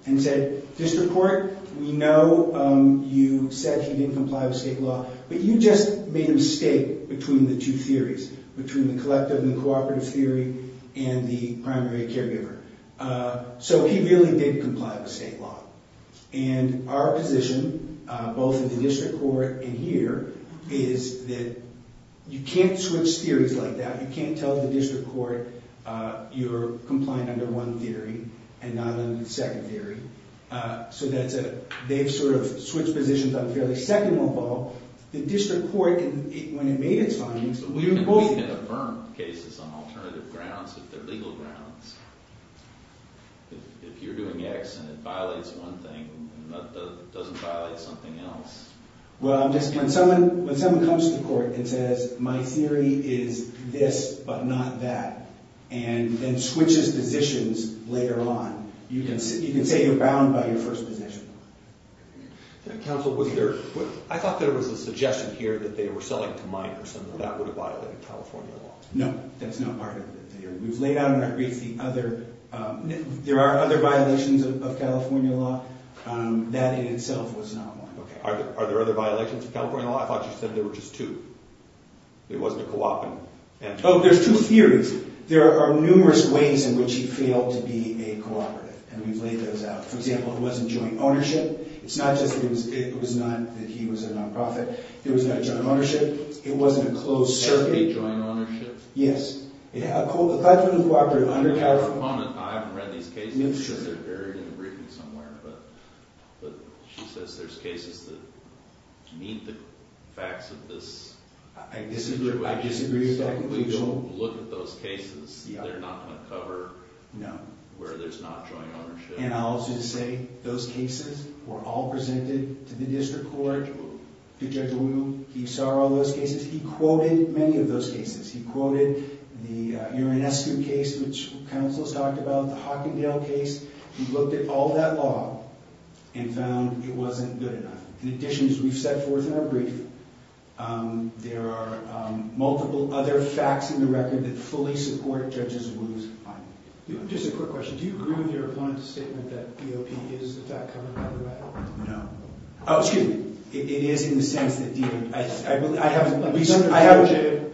and said, district court, we know you said he didn't comply with state law, but you just made a mistake between the two theories, between the collective and cooperative theory and the primary caregiver. So he really did comply with state law. And our position, both in the district court and here, is that you can't switch theories like that. You can't tell the district court you're complying under one theory and not under the second theory. So they've sort of switched positions on a fairly second level. The district court, when it made its findings, we were both— But we can affirm cases on alternative grounds if they're legal grounds. If you're doing X and it violates one thing and doesn't violate something else. Well, I'm just—when someone comes to court and says, my theory is this but not that, and then switches positions later on, you can say you're bound by your first position. Counsel, was there—I thought there was a suggestion here that they were selling to minors and that that would have violated California law. No, that's not part of the theory. We've laid out in our brief the other—there are other violations of California law. That in itself was not one. Okay. Are there other violations of California law? I thought you said there were just two. It wasn't a co-op and— Oh, there's two theories. There are numerous ways in which he failed to be a cooperative. And we've laid those out. For example, it wasn't joint ownership. It's not just that it was not that he was a non-profit. It was not a joint ownership. It wasn't a closed circuit. It was a joint ownership? Yes. I thought you were a cooperative under California law. I haven't read these cases because they're buried in the briefing somewhere, but she says there's cases that meet the facts of this. I disagree with that conclusion. We don't look at those cases. They're not going to cover where there's not joint ownership. And I'll just say those cases were all presented to the district court. To Judge Wimu. To Judge Wimu. He saw all those cases. He quoted many of those cases. He quoted the Uranescu case, which counsel has talked about, the Hockendale case. He looked at all that law and found it wasn't good enough. In addition, as we've set forth in our brief, there are multiple other facts in the record that fully support Judge Wimu's finding. Just a quick question. Do you agree with your opponent's statement that DOP is the fact-covering copyright? No. Oh, excuse me. It is in the sense that—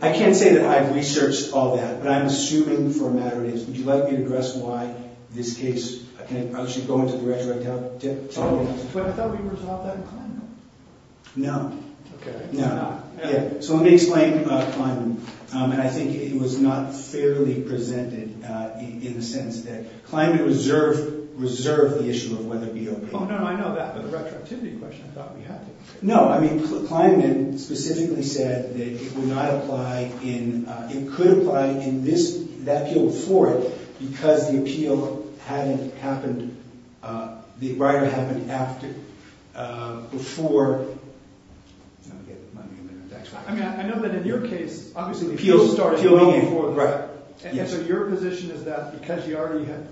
I can't say that I've researched all that, but I'm assuming for a matter of days. Would you like me to address why this case— can I actually go into the retroactivity? Totally. But I thought we resolved that in Kleinman. No. Okay. No. So let me explain Kleinman. And I think it was not fairly presented in the sense that Kleinman reserved the issue of whether DOP— Oh, no, I know that. But the retroactivity question, I thought we had to— No. I mean, Kleinman specifically said that it would not apply in— it could apply in that appeal before it because the appeal hadn't happened— the rider hadn't acted before— I mean, I know that in your case, obviously the appeal started long before the rider. And so your position is that because you already had—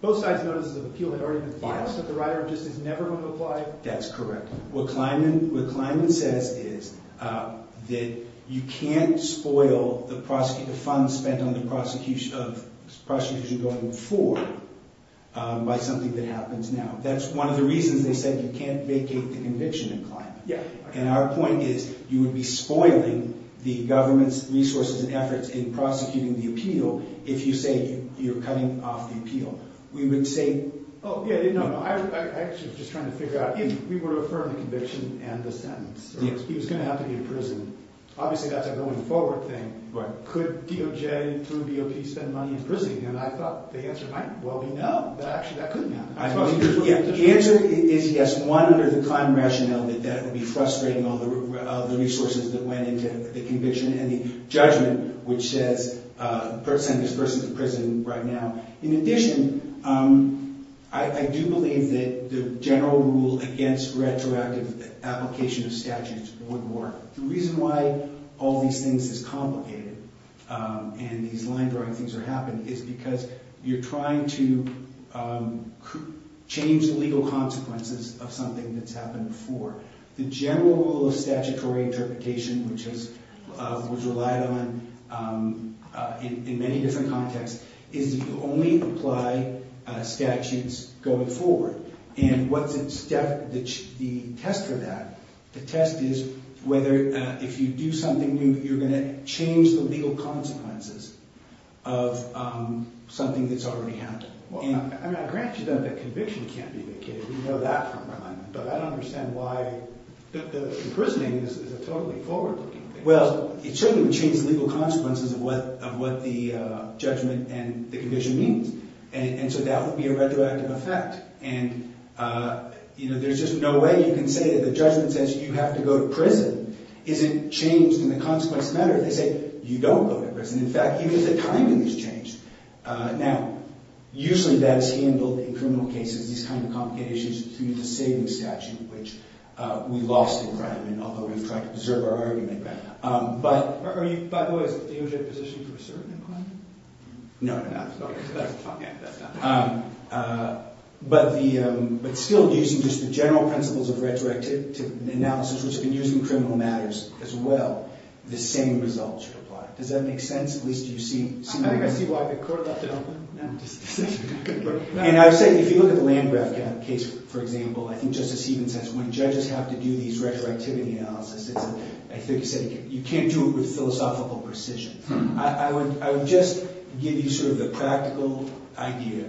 both sides' notices of appeal had already been filed, but the rider just is never going to apply? That's correct. What Kleinman says is that you can't spoil the funds spent on the prosecution going forward by something that happens now. That's one of the reasons they said you can't vacate the conviction in Kleinman. And our point is you would be spoiling the government's resources and efforts in prosecuting the appeal if you say you're cutting off the appeal. We would say— Oh, yeah, no, no. I was just trying to figure out if we were to affirm the conviction and the sentence. He was going to have to be in prison. Obviously, that's a going forward thing. Could DOJ through DOP spend money in prison? And I thought the answer might well be no. Actually, that couldn't happen. The answer is yes, one, under the time rationale that that would be frustrating all the resources that went into the conviction and the judgment, which says send this person to prison right now. In addition, I do believe that the general rule against retroactive application of statutes would work. The reason why all these things is complicated and these line-drawing things are happening is because you're trying to change the legal consequences of something that's happened before. The general rule of statutory interpretation, which was relied on in many different contexts, is that you only apply statutes going forward. And the test for that, the test is whether if you do something new, you're going to change the legal consequences of something that's already happened. Well, I mean, I grant you that conviction can't be vacated. We know that from my mind. But I don't understand why—imprisoning is a totally forward-looking thing. Well, it certainly would change the legal consequences of what the judgment and the conviction means. And so that would be a retroactive effect. And there's just no way you can say that the judgment says you have to go to prison isn't changed in the consequence matter. They say you don't go to prison. In fact, even the timing has changed. Now, usually that is handled in criminal cases, these kind of complicated issues, through the saving statute, which we lost in crime, and although we've tried to preserve our argument. But— By the way, are you in a position for a certain imprisonment? No, no, no. That's fine. Yeah, that's fine. But still using just the general principles of retroactive analysis, which have been used in criminal matters as well, the same result should apply. Does that make sense? At least do you see— I think I see why the court left it open. And I would say, if you look at the Landgraf case, for example, I think Justice Sieben says when judges have to do these retroactivity analyses, I think he said you can't do it with philosophical precision. I would just give you sort of the practical idea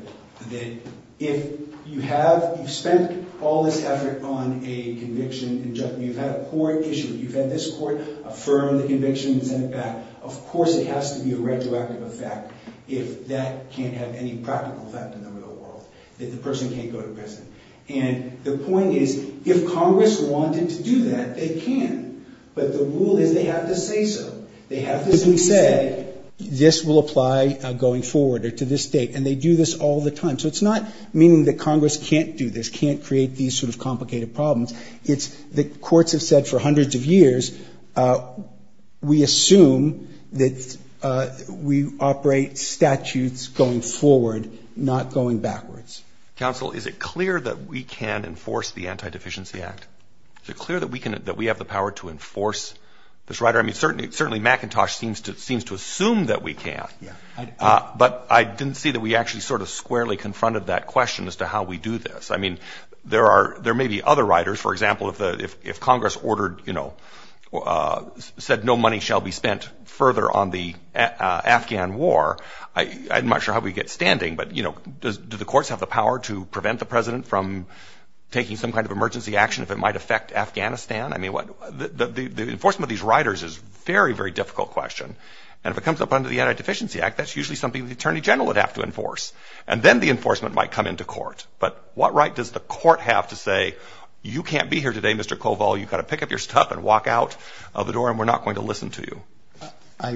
that if you have— you've spent all this effort on a conviction and you've had a poor issue, you've had this court affirm the conviction and send it back, of course it has to be a retroactive effect if that can't have any practical effect in the real world, that the person can't go to prison. And the point is, if Congress wanted to do that, they can. But the rule is they have to say so. They have to say so. Because we say, this will apply going forward or to this date, and they do this all the time. So it's not meaning that Congress can't do this, can't create these sort of complicated problems. It's that courts have said for hundreds of years, we assume that we operate statutes going forward, not going backwards. Counsel, is it clear that we can enforce the Anti-Deficiency Act? Is it clear that we have the power to enforce this right? I mean, certainly McIntosh seems to assume that we can. But I didn't see that we actually sort of squarely confronted that question as to how we do this. I mean, there may be other riders. For example, if Congress said no money shall be spent further on the Afghan war, I'm not sure how we'd get standing. But do the courts have the power to prevent the President from taking some kind of emergency action if it might affect Afghanistan? I mean, the enforcement of these riders is a very, very difficult question. And if it comes up under the Anti-Deficiency Act, that's usually something the Attorney General would have to enforce. And then the enforcement might come into court. But what right does the court have to say, you can't be here today, Mr. Koval, you've got to pick up your stuff and walk out of the door, and we're not going to listen to you? I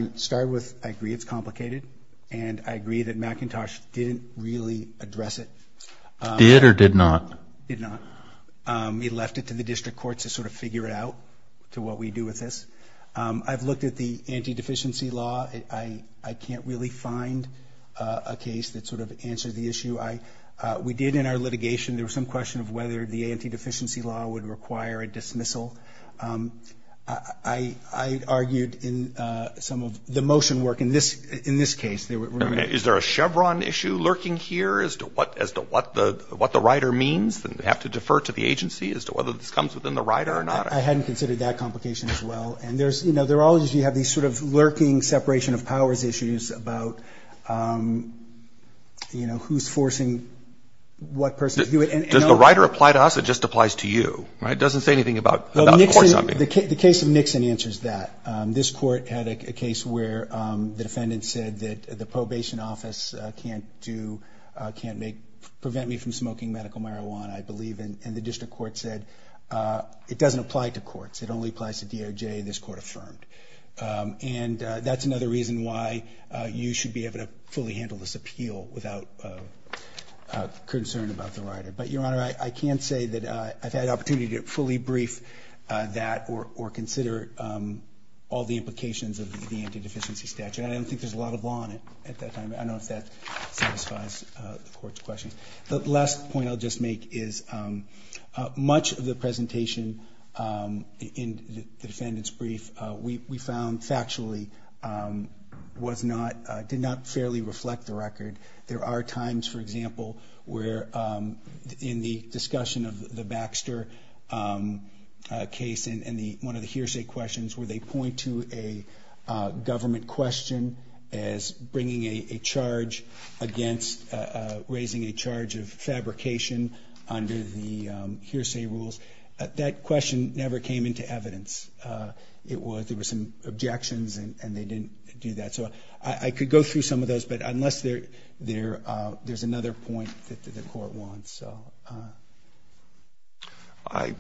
agree it's complicated. And I agree that McIntosh didn't really address it. Did or did not? Did not. He left it to the district courts to sort of figure it out, to what we do with this. I've looked at the anti-deficiency law. I can't really find a case that sort of answers the issue. We did in our litigation, there was some question of whether the anti-deficiency law would require a dismissal. I argued in some of the motion work in this case. Is there a Chevron issue lurking here as to what the rider means? Do they have to defer to the agency as to whether this comes within the rider or not? I hadn't considered that complication as well. And there are always these sort of lurking separation of powers issues about who's forcing what person to do it. Does the rider apply to us or just applies to you? It doesn't say anything about courts. The case of Nixon answers that. This court had a case where the defendant said that the probation office can't prevent me from smoking medical marijuana, I believe, and the district court said it doesn't apply to courts, it only applies to DOJ, and this court affirmed. And that's another reason why you should be able to fully handle this appeal without concern about the rider. But, Your Honor, I can't say that I've had opportunity to fully brief that or consider all the implications of the anti-deficiency statute. I don't think there's a lot of law on it at that time. I don't know if that satisfies the court's questions. The last point I'll just make is much of the presentation in the defendant's brief, we found factually did not fairly reflect the record. There are times, for example, where in the discussion of the Baxter case and one of the hearsay questions where they point to a government question as raising a charge of fabrication under the hearsay rules. That question never came into evidence. There were some objections and they didn't do that. So I could go through some of those, but unless there's another point that the court wants. I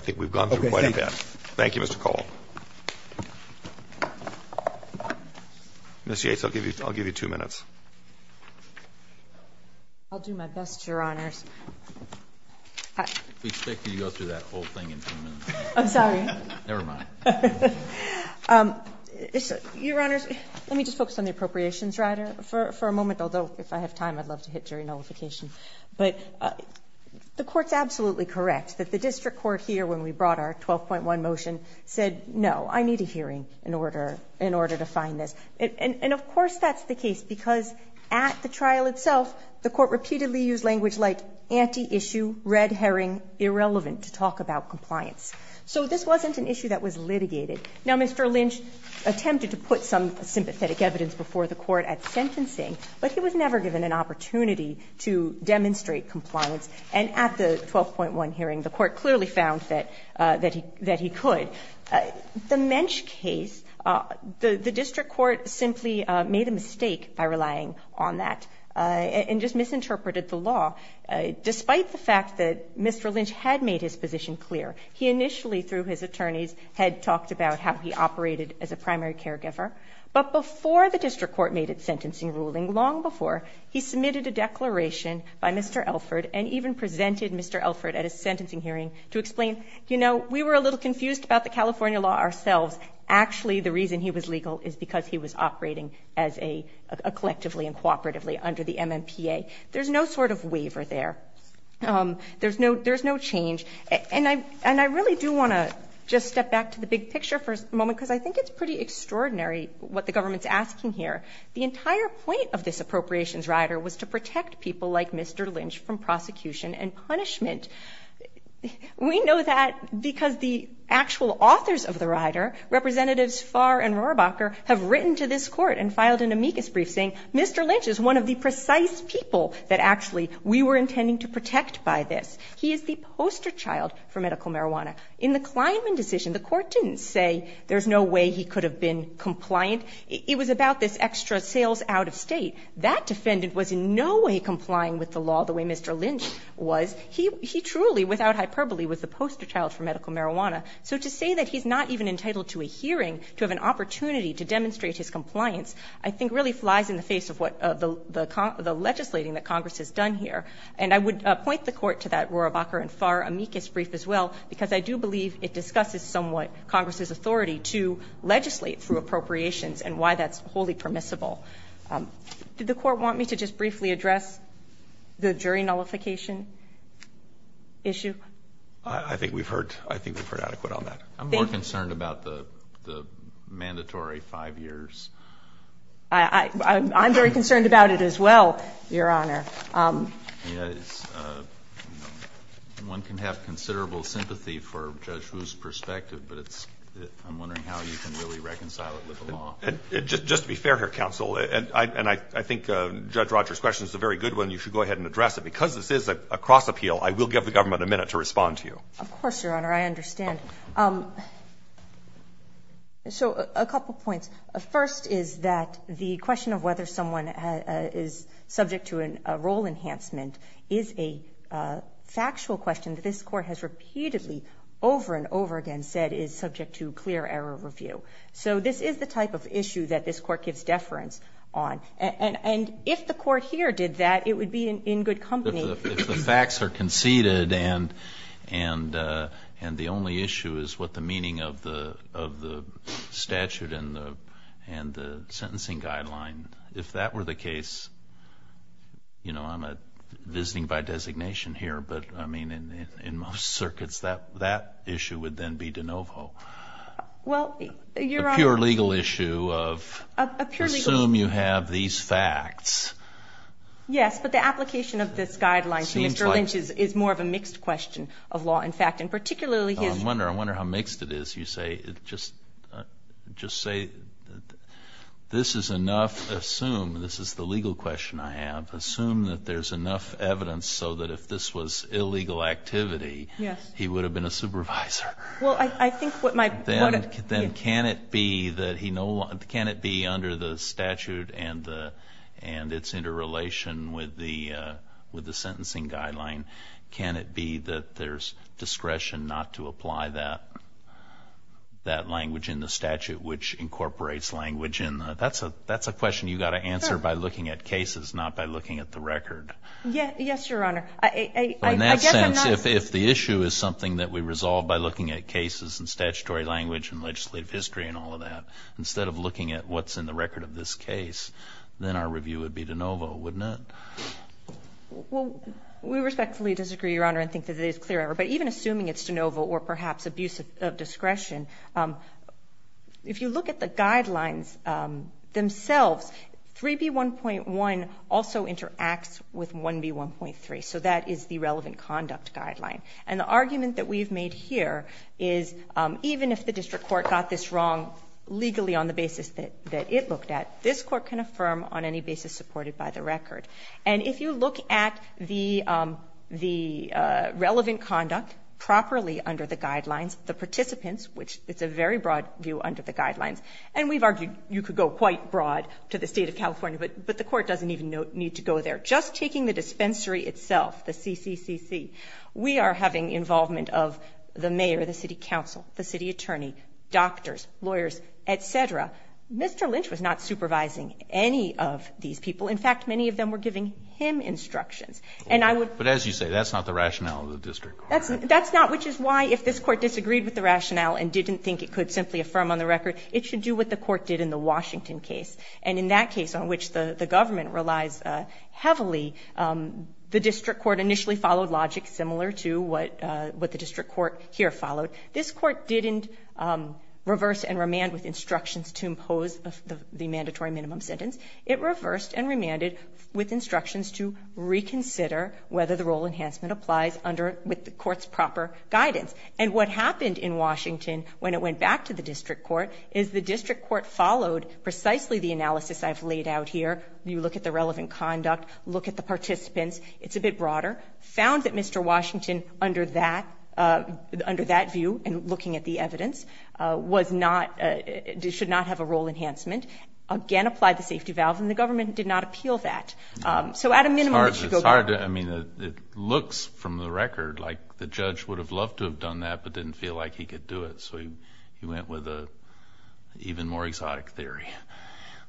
think we've gone through quite a bit. Thank you, Mr. Cole. Ms. Yates, I'll give you two minutes. I'll do my best, Your Honors. We expected you to go through that whole thing in two minutes. I'm sorry. Never mind. Your Honors, let me just focus on the appropriations rider for a moment, although if I have time I'd love to hit jury nullification. But the Court's absolutely correct that the district court here when we brought our 12.1 motion said no, I need a hearing in order to find this. And of course that's the case because at the trial itself the Court repeatedly used language like anti-issue, red herring, irrelevant to talk about compliance. So this wasn't an issue that was litigated. Now, Mr. Lynch attempted to put some sympathetic evidence before the Court at sentencing, but he was never given an opportunity to demonstrate compliance. And at the 12.1 hearing the Court clearly found that he could. The Mensch case, the district court simply made a mistake by relying on that and just misinterpreted the law. Despite the fact that Mr. Lynch had made his position clear, he initially through his attorneys had talked about how he operated as a primary caregiver. But before the district court made its sentencing ruling, long before he submitted a declaration by Mr. Elford and even presented Mr. Elford at his sentencing hearing to explain, you know, we were a little confused about the California law ourselves. Actually the reason he was legal is because he was operating as a collectively and cooperatively under the MMPA. There's no sort of waiver there. There's no change. And I really do want to just step back to the big picture for a moment, because I think it's pretty extraordinary what the government's asking here. The entire point of this appropriations rider was to protect people like Mr. Lynch from prosecution and punishment. We know that because the actual authors of the rider, Representatives Farr and Rohrabacher, have written to this Court and filed an amicus brief saying Mr. Lynch is one of the precise people that actually we were intending to protect by this. He is the poster child for medical marijuana. In the Kleinman decision, the Court didn't say there's no way he could have been compliant. It was about this extra sales out-of-state. That defendant was in no way complying with the law the way Mr. Lynch was. He truly, without hyperbole, was the poster child for medical marijuana. So to say that he's not even entitled to a hearing, to have an opportunity to demonstrate his compliance, I think really flies in the face of what the legislating that Congress has done here. And I would point the Court to that Rohrabacher and Farr amicus brief as well, because I do believe it discusses somewhat Congress's authority to legislate through appropriations and why that's wholly permissible. Did the Court want me to just briefly address the jury nullification issue? I think we've heard adequate on that. I'm more concerned about the mandatory 5 years. I'm very concerned about it as well, Your Honor. Yes. One can have considerable sympathy for Judge Wu's perspective, but I'm wondering how you can really reconcile it with the law. Just to be fair here, counsel, and I think Judge Rogers' question is a very good one. You should go ahead and address it. Because this is a cross appeal, I will give the government a minute to respond to you. Of course, Your Honor. I understand. So a couple points. First is that the question of whether someone is subject to a role enhancement is a factual question that this Court has repeatedly over and over again said is subject to clear error review. So this is the type of issue that this Court gives deference on. And if the Court here did that, it would be in good company. If the facts are conceded and the only issue is what the meaning of the statute and the sentencing guideline, if that were the case, you know, I'm visiting by designation here, but I mean in most circuits that issue would then be de novo. Well, Your Honor. It's a pure legal issue of assume you have these facts. Yes, but the application of this guideline to Mr. Lynch is more of a mixed question of law and fact, and particularly his ---- I wonder how mixed it is. You say just say this is enough, assume, this is the legal question I have, assume that there's enough evidence so that if this was illegal activity, he would have been a supervisor. Well, I think what my ---- Then can it be that he no longer ---- can it be under the statute and its interrelation with the sentencing guideline, can it be that there's discretion not to apply that language in the statute which incorporates language in the ---- that's a question you've got to answer by looking at cases, not by looking at the record. Yes, Your Honor. I guess I'm not ---- If the issue is something that we resolve by looking at cases and statutory language and legislative history and all of that, instead of looking at what's in the record of this case, then our review would be de novo, wouldn't it? Well, we respectfully disagree, Your Honor, and think that it is clear, but even assuming it's de novo or perhaps abuse of discretion, if you look at the guidelines themselves, 3B1.1 also interacts with 1B1.3, so that is the relevant conduct guideline. And the argument that we've made here is even if the district court got this wrong legally on the basis that it looked at, this court can affirm on any basis supported by the record. And if you look at the relevant conduct properly under the guidelines, the participants, which it's a very broad view under the guidelines, and we've argued you could go quite broad to the State of California, but the court doesn't even need to go there. Just taking the dispensary itself, the CCCC, we are having involvement of the mayor, the city council, the city attorney, doctors, lawyers, et cetera. Mr. Lynch was not supervising any of these people. In fact, many of them were giving him instructions. But as you say, that's not the rationale of the district court. That's not, which is why if this court disagreed with the rationale and didn't think it could simply affirm on the record, it should do what the court did in the Washington case. And in that case on which the government relies heavily, the district court initially followed logic similar to what the district court here followed. This court didn't reverse and remand with instructions to impose the mandatory minimum sentence. It reversed and remanded with instructions to reconsider whether the rule enhancement applies with the court's proper guidance. And what happened in Washington when it went back to the district court is the district court followed precisely the analysis I've laid out here. You look at the relevant conduct. Look at the participants. It's a bit broader. Found that Mr. Washington under that view and looking at the evidence should not have a rule enhancement. Again, applied the safety valve, and the government did not appeal that. So at a minimum, it should go back. It's hard to, I mean, it looks from the record like the judge would have loved to have done that but didn't feel like he could do it. So he went with an even more exotic theory.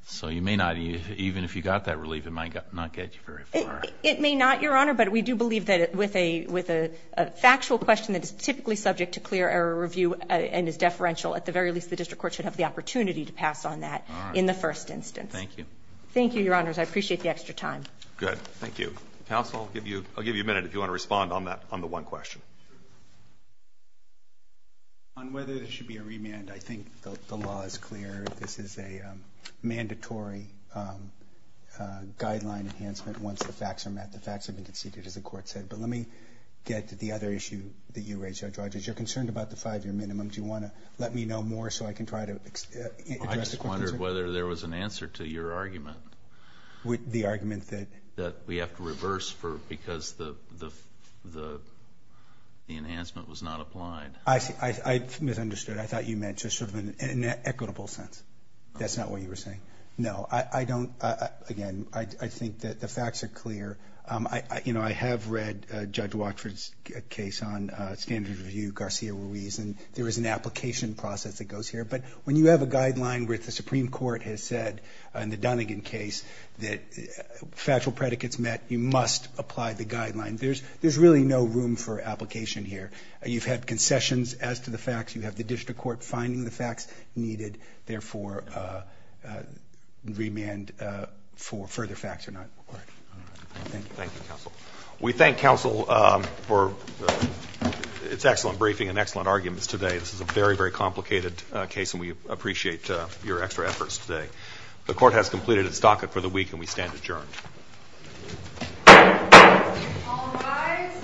So you may not, even if you got that relief, it might not get you very far. It may not, Your Honor, but we do believe that with a factual question that is typically subject to clear error review and is deferential, at the very least the district court should have the opportunity to pass on that in the first instance. Thank you. Thank you, Your Honors. I appreciate the extra time. Good. Thank you. Counsel, I'll give you a minute if you want to respond on the one question. Sure. On whether there should be a remand, I think the law is clear. This is a mandatory guideline enhancement once the facts are met. The facts have been conceded, as the Court said. But let me get to the other issue that you raised, Judge Rogers. You're concerned about the five-year minimum. Do you want to let me know more so I can try to address the question? I just wondered whether there was an answer to your argument. The argument that? That we have to reverse because the enhancement was not applied. I misunderstood. I thought you meant just sort of in an equitable sense. That's not what you were saying? No. Again, I think that the facts are clear. I have read Judge Watford's case on standards review, Garcia-Ruiz, and there is an application process that goes here. But when you have a guideline where the Supreme Court has said, in the Dunnegan case, that factual predicates met, you must apply the guideline. There's really no room for application here. You've had concessions as to the facts. You have the district court finding the facts needed, therefore, remand for further facts or not. Thank you. Thank you, counsel. We thank counsel for its excellent briefing and excellent arguments today. This is a very, very complicated case, and we appreciate your extra efforts today. The court has completed its docket for the week, and we stand adjourned. All rise.